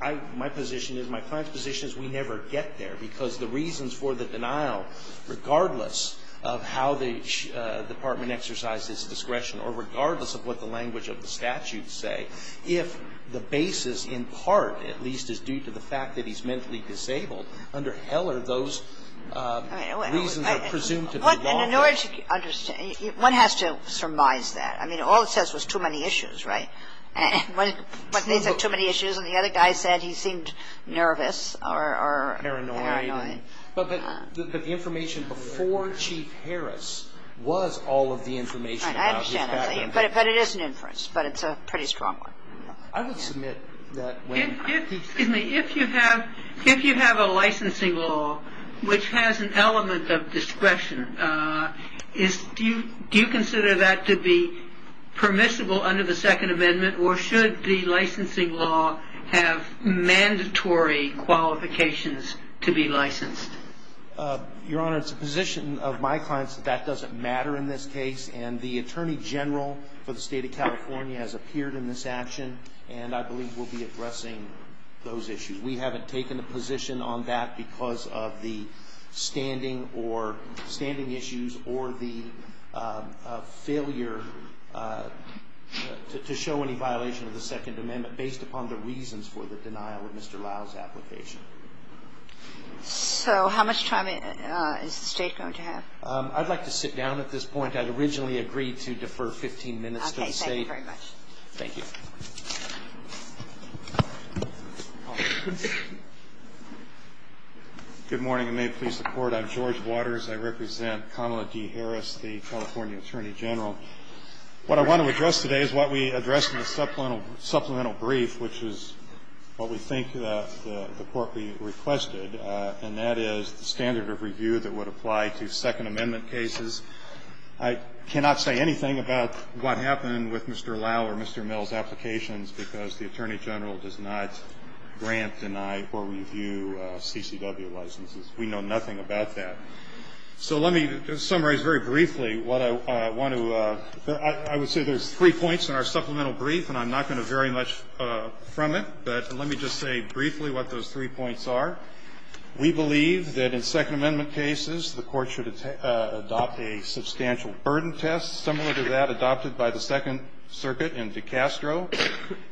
my position is, my client's position is we never get there because the reasons for the denial, regardless of how the Department exercised its discretion or regardless of what the language of the statute say, if the basis in part, at least, is due to the fact that he's mentally disabled, under Heller, those reasons are presumed to be lawful. And in order to understand, one has to surmise that. I mean, all it says was too many issues, right? And when they said too many issues and the other guy said he seemed nervous or paranoid. Paranoid. But the information before Chief Harris was all of the information about his background. Right. I understand what you're saying. But it is an inference, but it's a pretty strong one. I would submit that when Excuse me. If you have a licensing law which has an element of discretion, do you consider that to be permissible under the Second Amendment or should the licensing law have mandatory qualifications to be licensed? Your Honor, it's the position of my clients that that doesn't matter in this case. And the Attorney General for the State of California has appeared in this action and I believe will be addressing those issues. We haven't taken a position on that because of the standing or standing issues or the failure to show any violation of the Second Amendment based upon the reasons for the denial of Mr. Lyle's application. So how much time is the State going to have? I'd like to sit down at this point. I'd originally agreed to defer 15 minutes to the State. Thank you very much. Thank you. Good morning, and may it please the Court. I'm George Waters. I represent Kamala D. Harris, the California Attorney General. What I want to address today is what we addressed in the supplemental brief, which is what we think the Court requested, and that is the standard of review that would apply to Second Amendment cases. I cannot say anything about what happened with Mr. Lyle or Mr. Mill's applications because the Attorney General does not grant, deny, or review CCW licenses. We know nothing about that. So let me just summarize very briefly what I want to – I would say there's three points in our supplemental brief, and I'm not going to vary much from it, but let me just say briefly what those three points are. We believe that in Second Amendment cases, the Court should adopt a substantial burden test, similar to that adopted by the Second Circuit in DeCastro,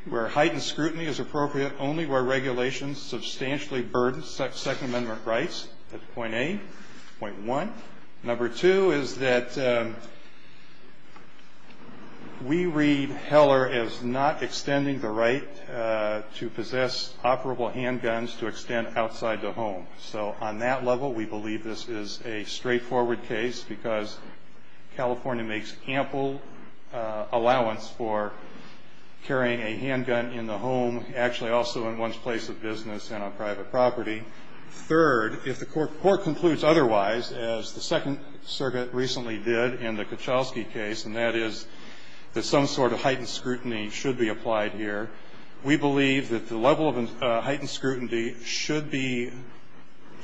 where heightened scrutiny is appropriate only where regulations substantially burden Second Amendment rights. That's point A. Point 1. Number 2 is that we read Heller as not extending the right to possess operable handguns to extend outside the home. So on that level, we believe this is a straightforward case because California makes ample allowance for carrying a handgun in the home, actually also in one's place of business and on private property. Third, if the Court concludes otherwise, as the Second Circuit recently did in the Kuchelski case, and that is that some sort of heightened scrutiny should be applied here, we believe that the level of heightened scrutiny should be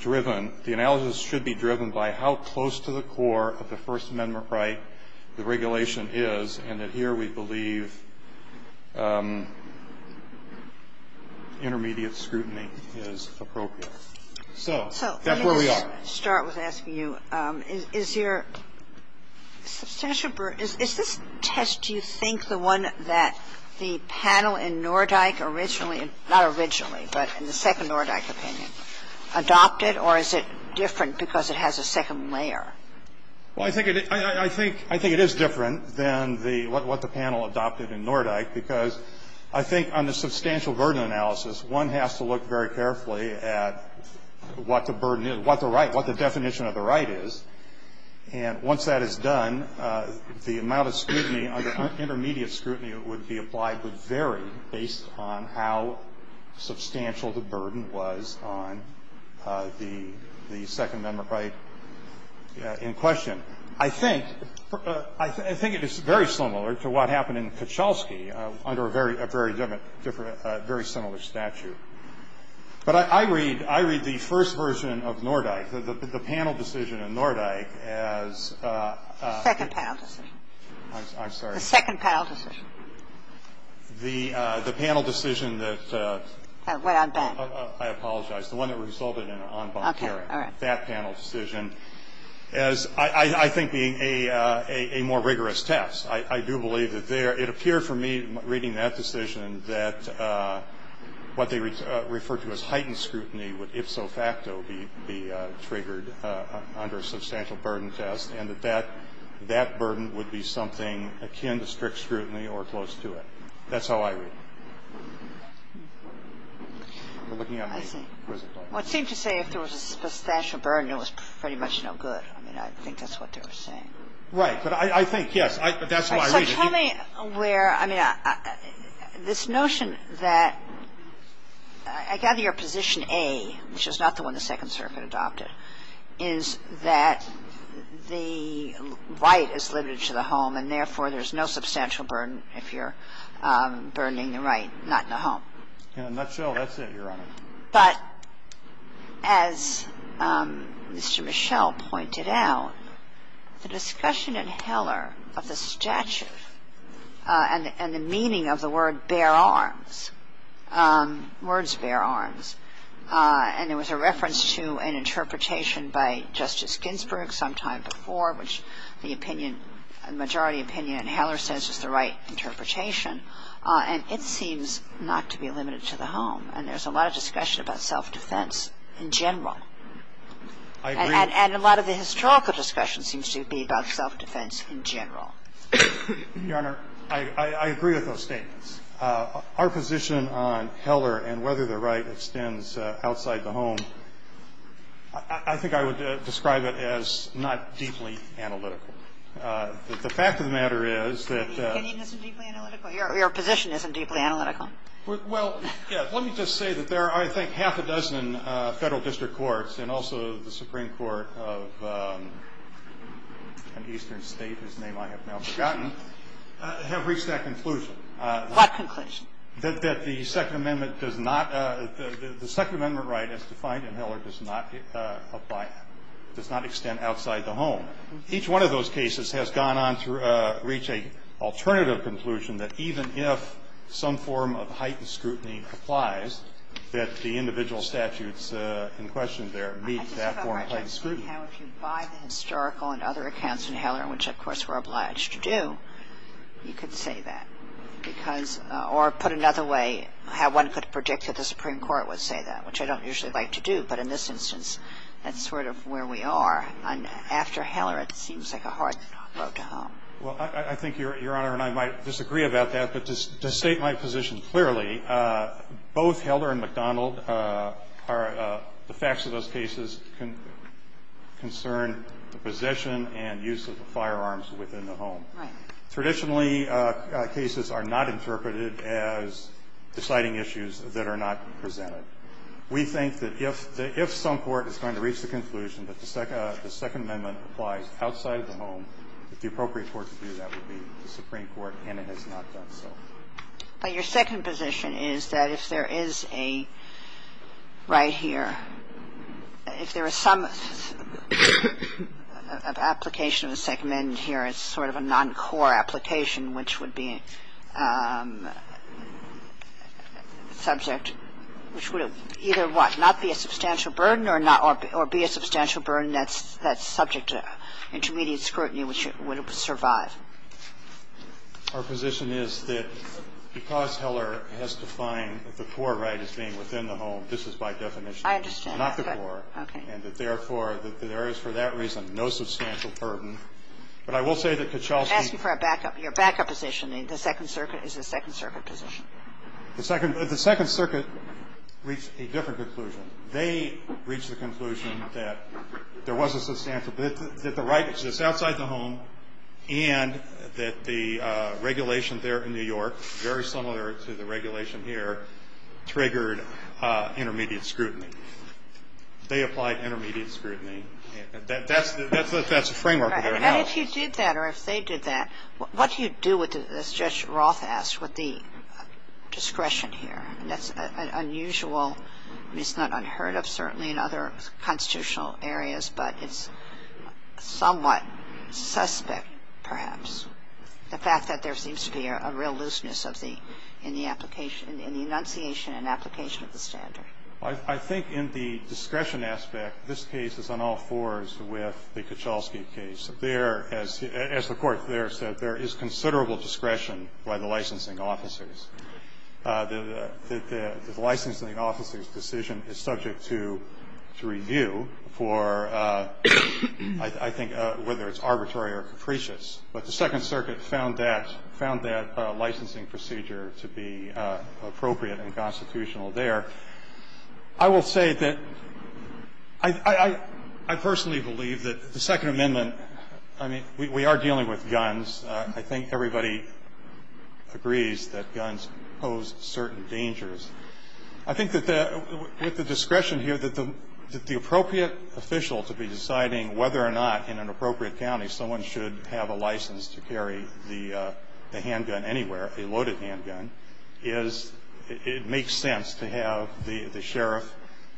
driven, the analysis should be driven by how close to the core of the First Amendment right the regulation is and that here we believe intermediate scrutiny is appropriate. So that's where we are. I want to start with asking you, is your substantial burden – is this test, do you think, the one that the panel in Nordyke originally – not originally, but in the Second Nordyke opinion adopted, or is it different because it has a second layer? Well, I think it is different than the – what the panel adopted in Nordyke because I think on the substantial burden analysis, one has to look very carefully at what the burden is, what the right – what the definition of the right is. And once that is done, the amount of scrutiny under intermediate scrutiny that would be applied would vary based on how substantial the burden was on the Second Amendment right in question. And I think – I think it is very similar to what happened in Kuchelski under a very different – a very similar statute. But I read – I read the first version of Nordyke, the panel decision in Nordyke as a – The second panel decision. I'm sorry. The second panel decision. The panel decision that – Wait. I'm back. I apologize. The one that resulted in an en banc hearing. Okay. All right. That panel decision as, I think, being a more rigorous test. I do believe that there – it appeared for me reading that decision that what they referred to as heightened scrutiny would ipso facto be triggered under a substantial burden test, and that that burden would be something akin to strict scrutiny or close to it. That's how I read it. We're looking at a quiz. Well, it seemed to say if there was a substantial burden, it was pretty much no good. I mean, I think that's what they were saying. Right. But I think, yes, that's how I read it. So tell me where – I mean, this notion that – I gather you're position A, which is not the one the Second Circuit adopted, is that the right is limited to the home and, therefore, there's no substantial burden if you're burdening the right, not in the home. In a nutshell, that's it, Your Honor. But as Mr. Michel pointed out, the discussion in Heller of the statute and the meaning of the word bare arms, words bare arms, and there was a reference to an interpretation by Justice Ginsburg sometime before, which the opinion, the majority opinion in Heller says is the right interpretation, and it seems not to be limited to the home. And there's a lot of discussion about self-defense in general. I agree. And a lot of the historical discussion seems to be about self-defense in general. Your Honor, I agree with those statements. Our position on Heller and whether the right extends outside the home, I think I would describe it as not deeply analytical. The fact of the matter is that the – Isn't it deeply analytical? Your position isn't deeply analytical. Well, yes. Let me just say that there are, I think, half a dozen Federal district courts and also the Supreme Court of an eastern state, whose name I have now forgotten, have reached that conclusion. What conclusion? That the Second Amendment does not – the Second Amendment right as defined in Heller does not abide – does not extend outside the home. Each one of those cases has gone on to reach an alternative conclusion that even if some form of heightened scrutiny applies, that the individual statutes in question there meet that form of heightened scrutiny. I just have a question. How if you buy the historical and other accounts in Heller, which, of course, we're obliged to do, you could say that? Because – or put another way, how one could predict that the Supreme Court would say that, which I don't usually like to do. But in this instance, that's sort of where we are. And after Heller, it seems like a hard road to home. Well, I think, Your Honor, and I might disagree about that. But to state my position clearly, both Heller and McDonald are – the facts of those cases concern the possession and use of the firearms within the home. Right. Traditionally, cases are not interpreted as deciding issues that are not presented. We think that if some court is going to reach the conclusion that the Second Amendment applies outside of the home, if the appropriate court to do that would be the Supreme Court, and it has not done so. But your second position is that if there is a right here, if there is some application of the Second Amendment here, it's sort of a noncore application, which would be subject to intermediate scrutiny, which would not be a substantial burden or be a substantial burden that's subject to intermediate scrutiny, which would survive. Our position is that because Heller has defined the core right as being within the home, this is by definition not the core. I understand. Okay. And that, therefore, that there is, for that reason, no substantial burden. But I will say that Kitchell's view – I'm asking for a backup. Your backup position, the Second Circuit, is the Second Circuit position. The Second Circuit reached a different conclusion. They reached the conclusion that there was a substantial – that the right is just outside the home, and that the regulation there in New York, very similar to the regulation here, triggered intermediate scrutiny. They applied intermediate scrutiny. That's the framework of their analysis. And if you did that, or if they did that, what do you do with it, as Judge Roth asked, with the discretion here? And that's an unusual – I mean, it's not unheard of, certainly, in other constitutional areas, but it's somewhat suspect, perhaps, the fact that there seems to be a real looseness of the – in the application – in the enunciation and application of the standard. I think in the discretion aspect, this case is on all fours with the Kitchell's case. There, as the Court there said, there is considerable discretion by the licensing officers. The licensing officer's decision is subject to review for, I think, whether it's arbitrary or capricious. But the Second Circuit found that – found that licensing procedure to be appropriate and constitutional there. I will say that I personally believe that the Second Amendment – I mean, we are dealing with guns. I think everybody agrees that guns pose certain dangers. I think that with the discretion here, that the appropriate official to be deciding whether or not, in an appropriate county, someone should have a license to carry the handgun anywhere, a loaded handgun, is – it makes sense to have the sheriff,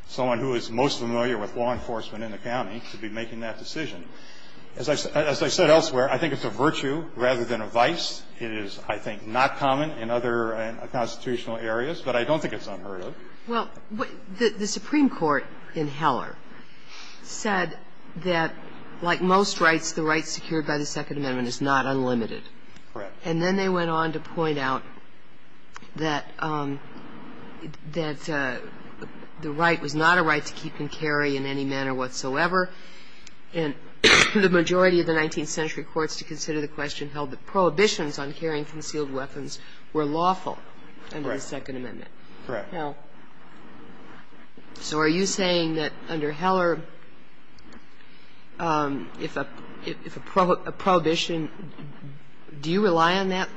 someone who is most familiar with law enforcement in the county, to be making that decision. As I said elsewhere, I think it's a virtue rather than a vice. It is, I think, not common in other constitutional areas, but I don't think it's unheard of. Well, the Supreme Court in Heller said that, like most rights, the right secured by the Second Amendment is not unlimited. Correct. And then they went on to point out that – that the right was not a right to keep and carry in any manner whatsoever. And the majority of the 19th century courts to consider the question held that prohibitions on carrying concealed weapons were lawful under the Second Amendment. Correct. So are you saying that under Heller, if a – if a prohibition – do you rely on that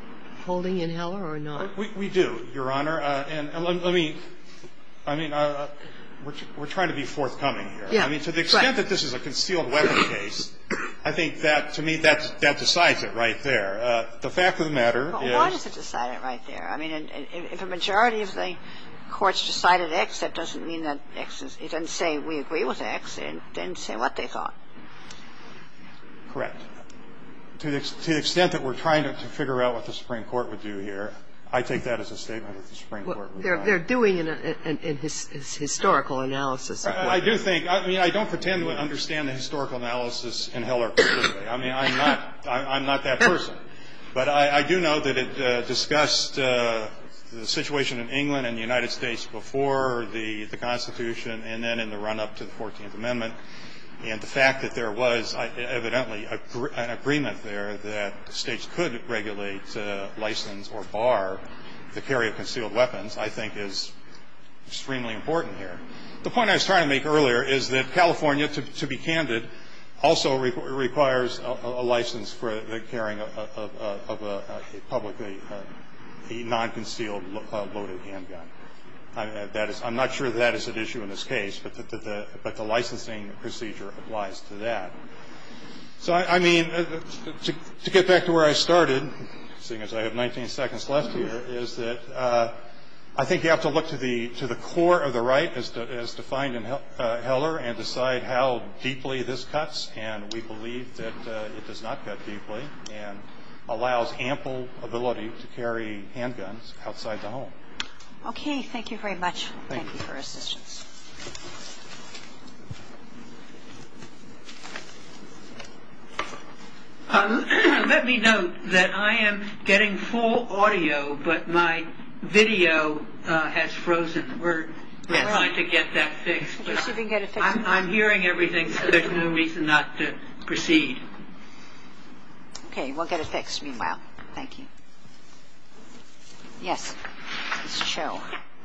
holding in Heller or not? We do, Your Honor. And let me – I mean, we're trying to be forthcoming here. Yeah. Right. I mean, to the extent that this is a concealed weapon case, I think that, to me, that decides it right there. The fact of the matter is – Well, why does it decide it right there? I mean, if a majority of the courts decided X, that doesn't mean that X is – it doesn't say we agree with X. It didn't say what they thought. Correct. To the extent that we're trying to figure out what the Supreme Court would do here, I take that as a statement that the Supreme Court would not. They're doing a historical analysis. I do think – I mean, I don't pretend to understand the historical analysis in Heller completely. I mean, I'm not – I'm not that person. But I do know that it discussed the situation in England and the United States before the Constitution and then in the run-up to the 14th Amendment. And the fact that there was evidently an agreement there that states could regulate, license, or bar the carry of concealed weapons I think is extremely important here. The point I was trying to make earlier is that California, to be candid, also requires a license for the carrying of a publicly – a non-concealed loaded handgun. I'm not sure that is an issue in this case, but the licensing procedure applies to that. So, I mean, to get back to where I started, seeing as I have 19 seconds left here, is that I think you have to look to the core of the right, as defined in Heller, and decide how deeply this cuts. And we believe that it does not cut deeply and allows ample ability to carry handguns outside the home. Okay. Thank you very much. Thank you for your assistance. Let me note that I am getting full audio, but my video has frozen. We're trying to get that fixed. I'm hearing everything, so there's no reason not to proceed. Okay. We'll get it fixed, meanwhile. Thank you. Yes, Ms. Cho.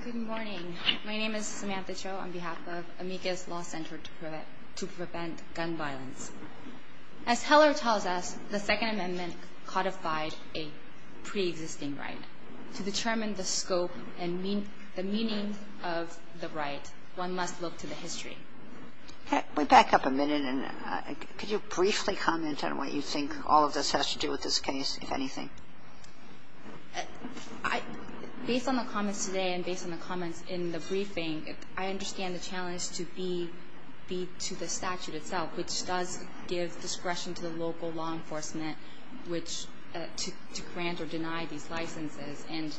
Good morning. My name is Samantha Cho on behalf of Amicus Law Center to Prevent Gun Violence. As Heller tells us, the Second Amendment codified a pre-existing right. To determine the scope and the meaning of the right, one must look to the history. Let me back up a minute. Could you briefly comment on what you think all of this has to do with this case, if anything? Based on the comments today and based on the comments in the briefing, I understand the challenge to be to the statute itself, which does give discretion to the local law enforcement to grant or deny these licenses. And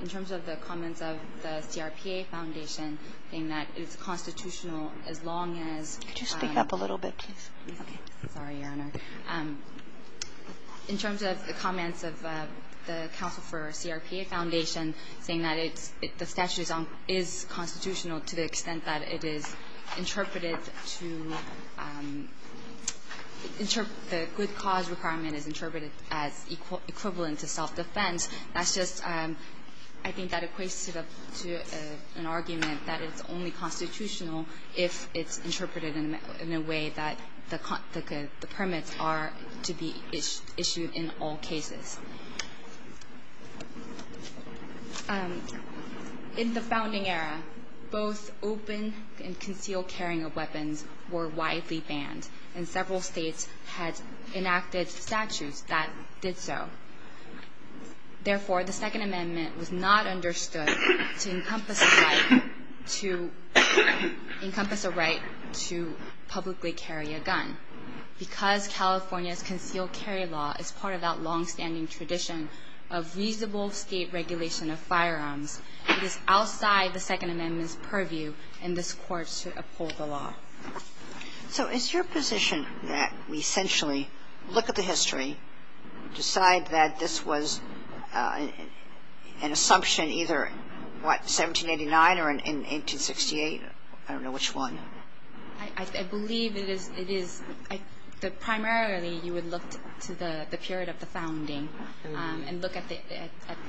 in terms of the comments of the CRPA Foundation, saying that it's constitutional as long as ‑‑ Could you speak up a little bit, please? Okay. Sorry, Your Honor. In terms of the comments of the Council for CRPA Foundation, saying that it's ‑‑ the statute is constitutional to the extent that it is interpreted to ‑‑ the good cause requirement is interpreted as equivalent to self-defense, that's just, I think, that equates to an argument that it's only constitutional if it's interpreted in a way that the permits are to be issued in all cases. In the founding era, both open and concealed carrying of weapons were widely banned, and several states had enacted statutes that did so. Therefore, the Second Amendment was not understood to encompass the right to publicly carry a gun. Because California's concealed carry law is part of that longstanding tradition of reasonable state regulation of firearms, it is outside the Second Amendment's purview in this Court to uphold the law. So is your position that we essentially look at the history, decide that this was an assumption either, what, 1789 or in 1868? I don't know which one. I believe it is ‑‑ primarily you would look to the period of the founding and look at the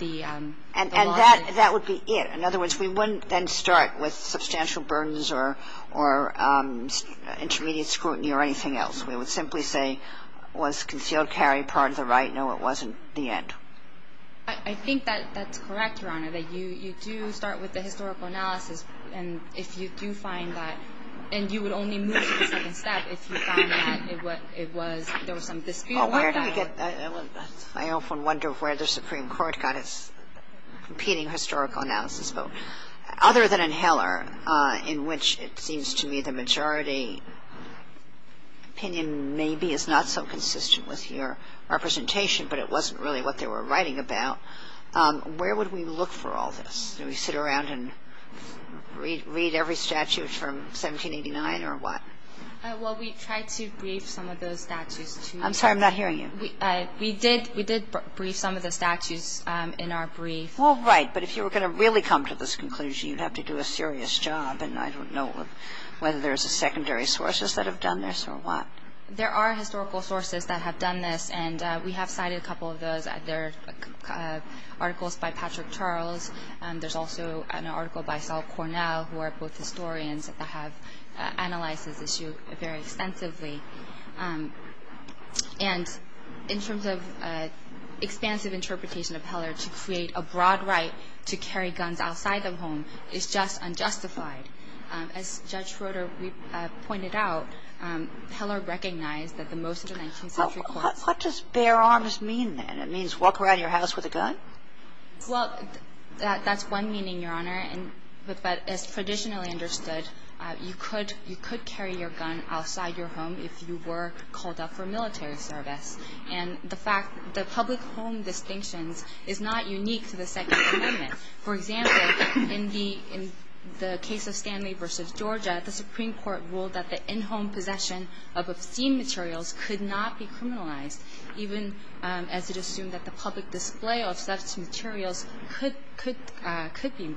‑‑ And that would be it. In other words, we wouldn't then start with substantial burdens or intermediate scrutiny or anything else. We would simply say, was concealed carry part of the right? No, it wasn't the end. I think that's correct, Your Honor, that you do start with the historical analysis, and if you do find that, and you would only move to the second step if you found that it was ‑‑ there was some dispute about it. I often wonder where the Supreme Court got its competing historical analysis vote, other than in Heller, in which it seems to me the majority opinion maybe is not so consistent with your representation, but it wasn't really what they were writing about. Where would we look for all this? Do we sit around and read every statute from 1789 or what? Well, we tried to brief some of those statutes, too. I'm sorry, I'm not hearing you. We did ‑‑ we did brief some of the statutes in our brief. Well, right, but if you were going to really come to this conclusion, you'd have to do a serious job, and I don't know whether there's secondary sources that have done this or what. There are historical sources that have done this, and we have cited a couple of those. There are articles by Patrick Charles, and there's also an article by Saul Cornell, who are both historians that have analyzed this issue very extensively. And in terms of expansive interpretation of Heller, to create a broad right to carry guns outside the home is just unjustified. As Judge Schroeder pointed out, Heller recognized that the most of the 19th century courts ‑‑ Well, here is to voice your views. How do you go about it, if you don't have a gun, and you just walk around your house with a gun? Well, that's one meaning, Your Honor. But as traditionally understood, you could carry your gun outside your home if you were called up for military service, and the fact ‑‑ the public home distinctions is not unique to the Second Amendment. For example, in the case of Stanley v. Georgia, the Supreme Court ruled that the in-home possession of obscene materials could not be criminalized, even as it assumed that the public display of such materials could be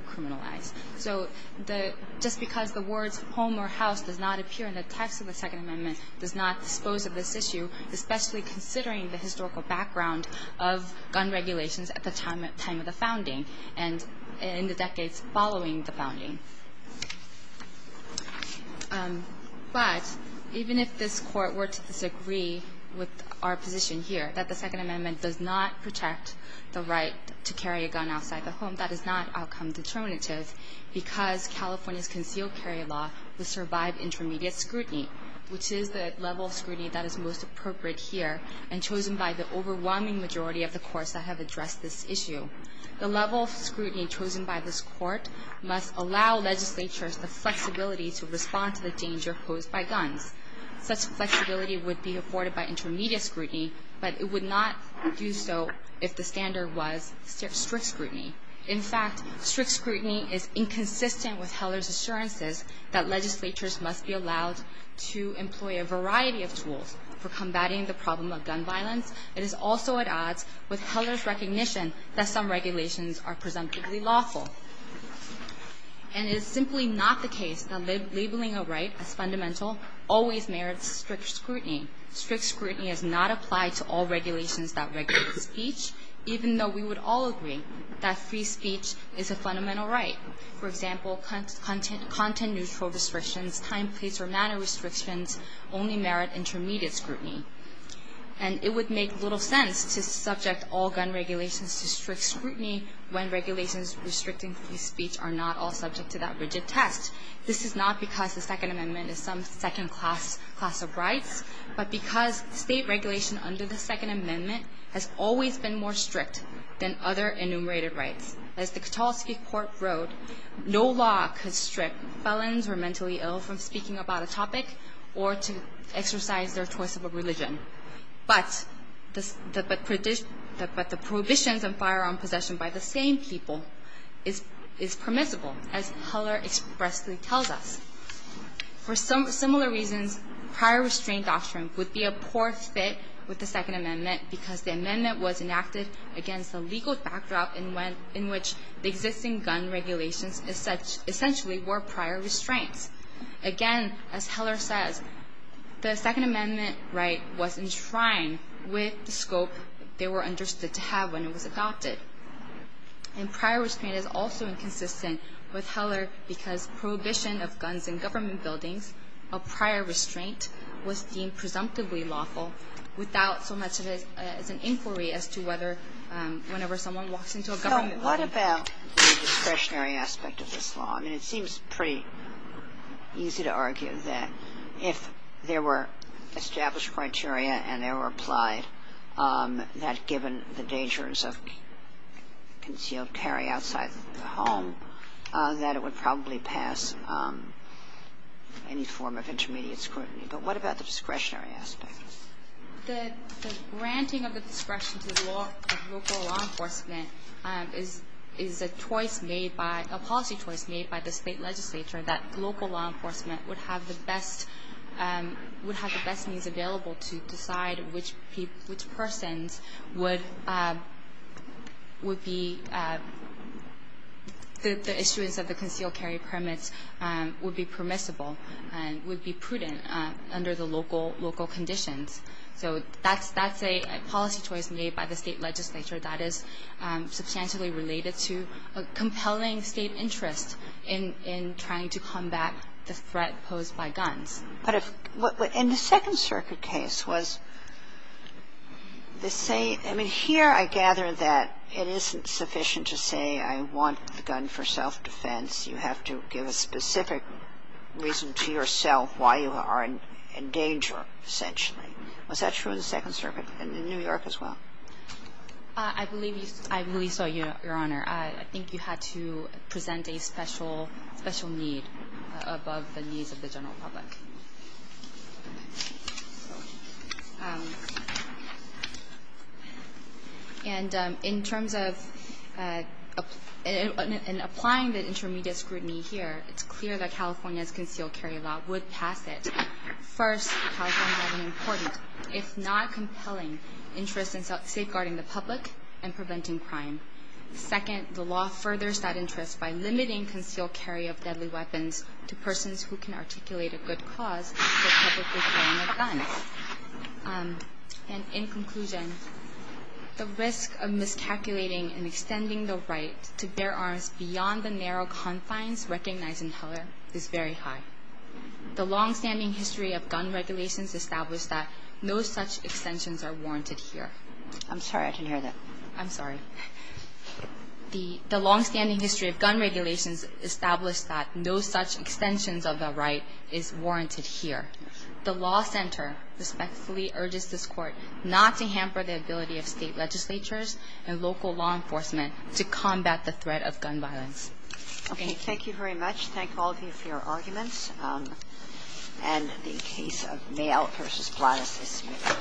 criminalized. So just because the words home or house does not appear in the text of the Second Amendment does not dispose of this issue, especially considering the historical background of gun regulations at the time of the founding. And in the decades following the founding. But even if this Court were to disagree with our position here, that the Second Amendment does not protect the right to carry a gun outside the home, that is not outcome determinative, because California's concealed carry law would survive intermediate scrutiny, which is the level of scrutiny that is most appropriate here and chosen by the overwhelming majority of the courts that have addressed this issue. The level of scrutiny chosen by this Court must allow legislatures the flexibility to respond to the danger posed by guns. Such flexibility would be afforded by intermediate scrutiny, but it would not do so if the standard was strict scrutiny. In fact, strict scrutiny is inconsistent with Heller's assurances that legislatures must be allowed to employ a variety of tools for combating the problem of gun violence. It is also at odds with Heller's recognition that some regulations are presumptively lawful. And it is simply not the case that labeling a right as fundamental always merits strict scrutiny. Strict scrutiny does not apply to all regulations that regulate speech, even though we would all agree that free speech is a fundamental right. For example, content-neutral restrictions, time, place, or manner restrictions only merit intermediate scrutiny. And it would make little sense to subject all gun regulations to strict scrutiny when regulations restricting free speech are not all subject to that rigid test. This is not because the Second Amendment is some second-class class of rights, but because state regulation under the Second Amendment has always been more strict than other enumerated rights. As the Katulski Court wrote, no law could strip felons who are mentally ill from speaking about a topic or to exercise their choice of a religion. But the prohibitions on firearm possession by the same people is permissible, as Heller expressly tells us. For similar reasons, prior restraint doctrine would be a poor fit with the Second Amendment because the amendment was enacted against the legal backdrop in which the existing gun regulations essentially were prior restraints. Again, as Heller says, the Second Amendment right was enshrined with the scope they were understood to have when it was adopted. And prior restraint is also inconsistent with Heller because prohibition of guns in government buildings of prior restraint was deemed presumptively lawful without so much as an inquiry as to whether whenever someone walks into a government building. So what about the discretionary aspect of this law? I mean, it seems pretty easy to argue that if there were established criteria and they were applied, that given the dangers of concealed carry outside the home, that it would probably pass any form of intermediate scrutiny. But what about the discretionary aspect? The granting of the discretion to law enforcement is a choice made by, a policy choice made by the state legislature that local law enforcement would have the best means available to decide which persons would be the issuance of the concealed carry permits would be permissible and would be prudent under the local conditions. So that's a policy choice made by the state legislature that is substantially related to a compelling state interest in trying to combat the threat posed by guns. But if the Second Circuit case was the same, I mean, here I gather that it isn't sufficient to say I want the gun for self-defense. You have to give a specific reason to yourself why you are in danger, essentially. Was that true in the Second Circuit and in New York as well? I believe so, Your Honor. I think you had to present a special need above the needs of the general public. And in terms of applying the intermediate scrutiny here, it's clear that California's concealed carry law would pass it. First, California has an important, if not compelling, interest in safeguarding the public and preventing crime. Second, the law furthers that interest by limiting concealed carry of deadly weapons to persons who can articulate a good cause for publicly carrying a gun. And in conclusion, the risk of miscalculating and extending the right to bear arms beyond the narrow confines recognized in Heller is very high. The longstanding history of gun regulations established that no such extensions are warranted here. I'm sorry. I didn't hear that. I'm sorry. The longstanding history of gun regulations established that no such extensions of the right is warranted here. The law center respectfully urges this Court not to hamper the ability of State legislatures and local law enforcement to combat the threat of gun violence. Thank you. Thank you very much. Thank all of you for your arguments. And the case of Mayo v. Blattis is submitted.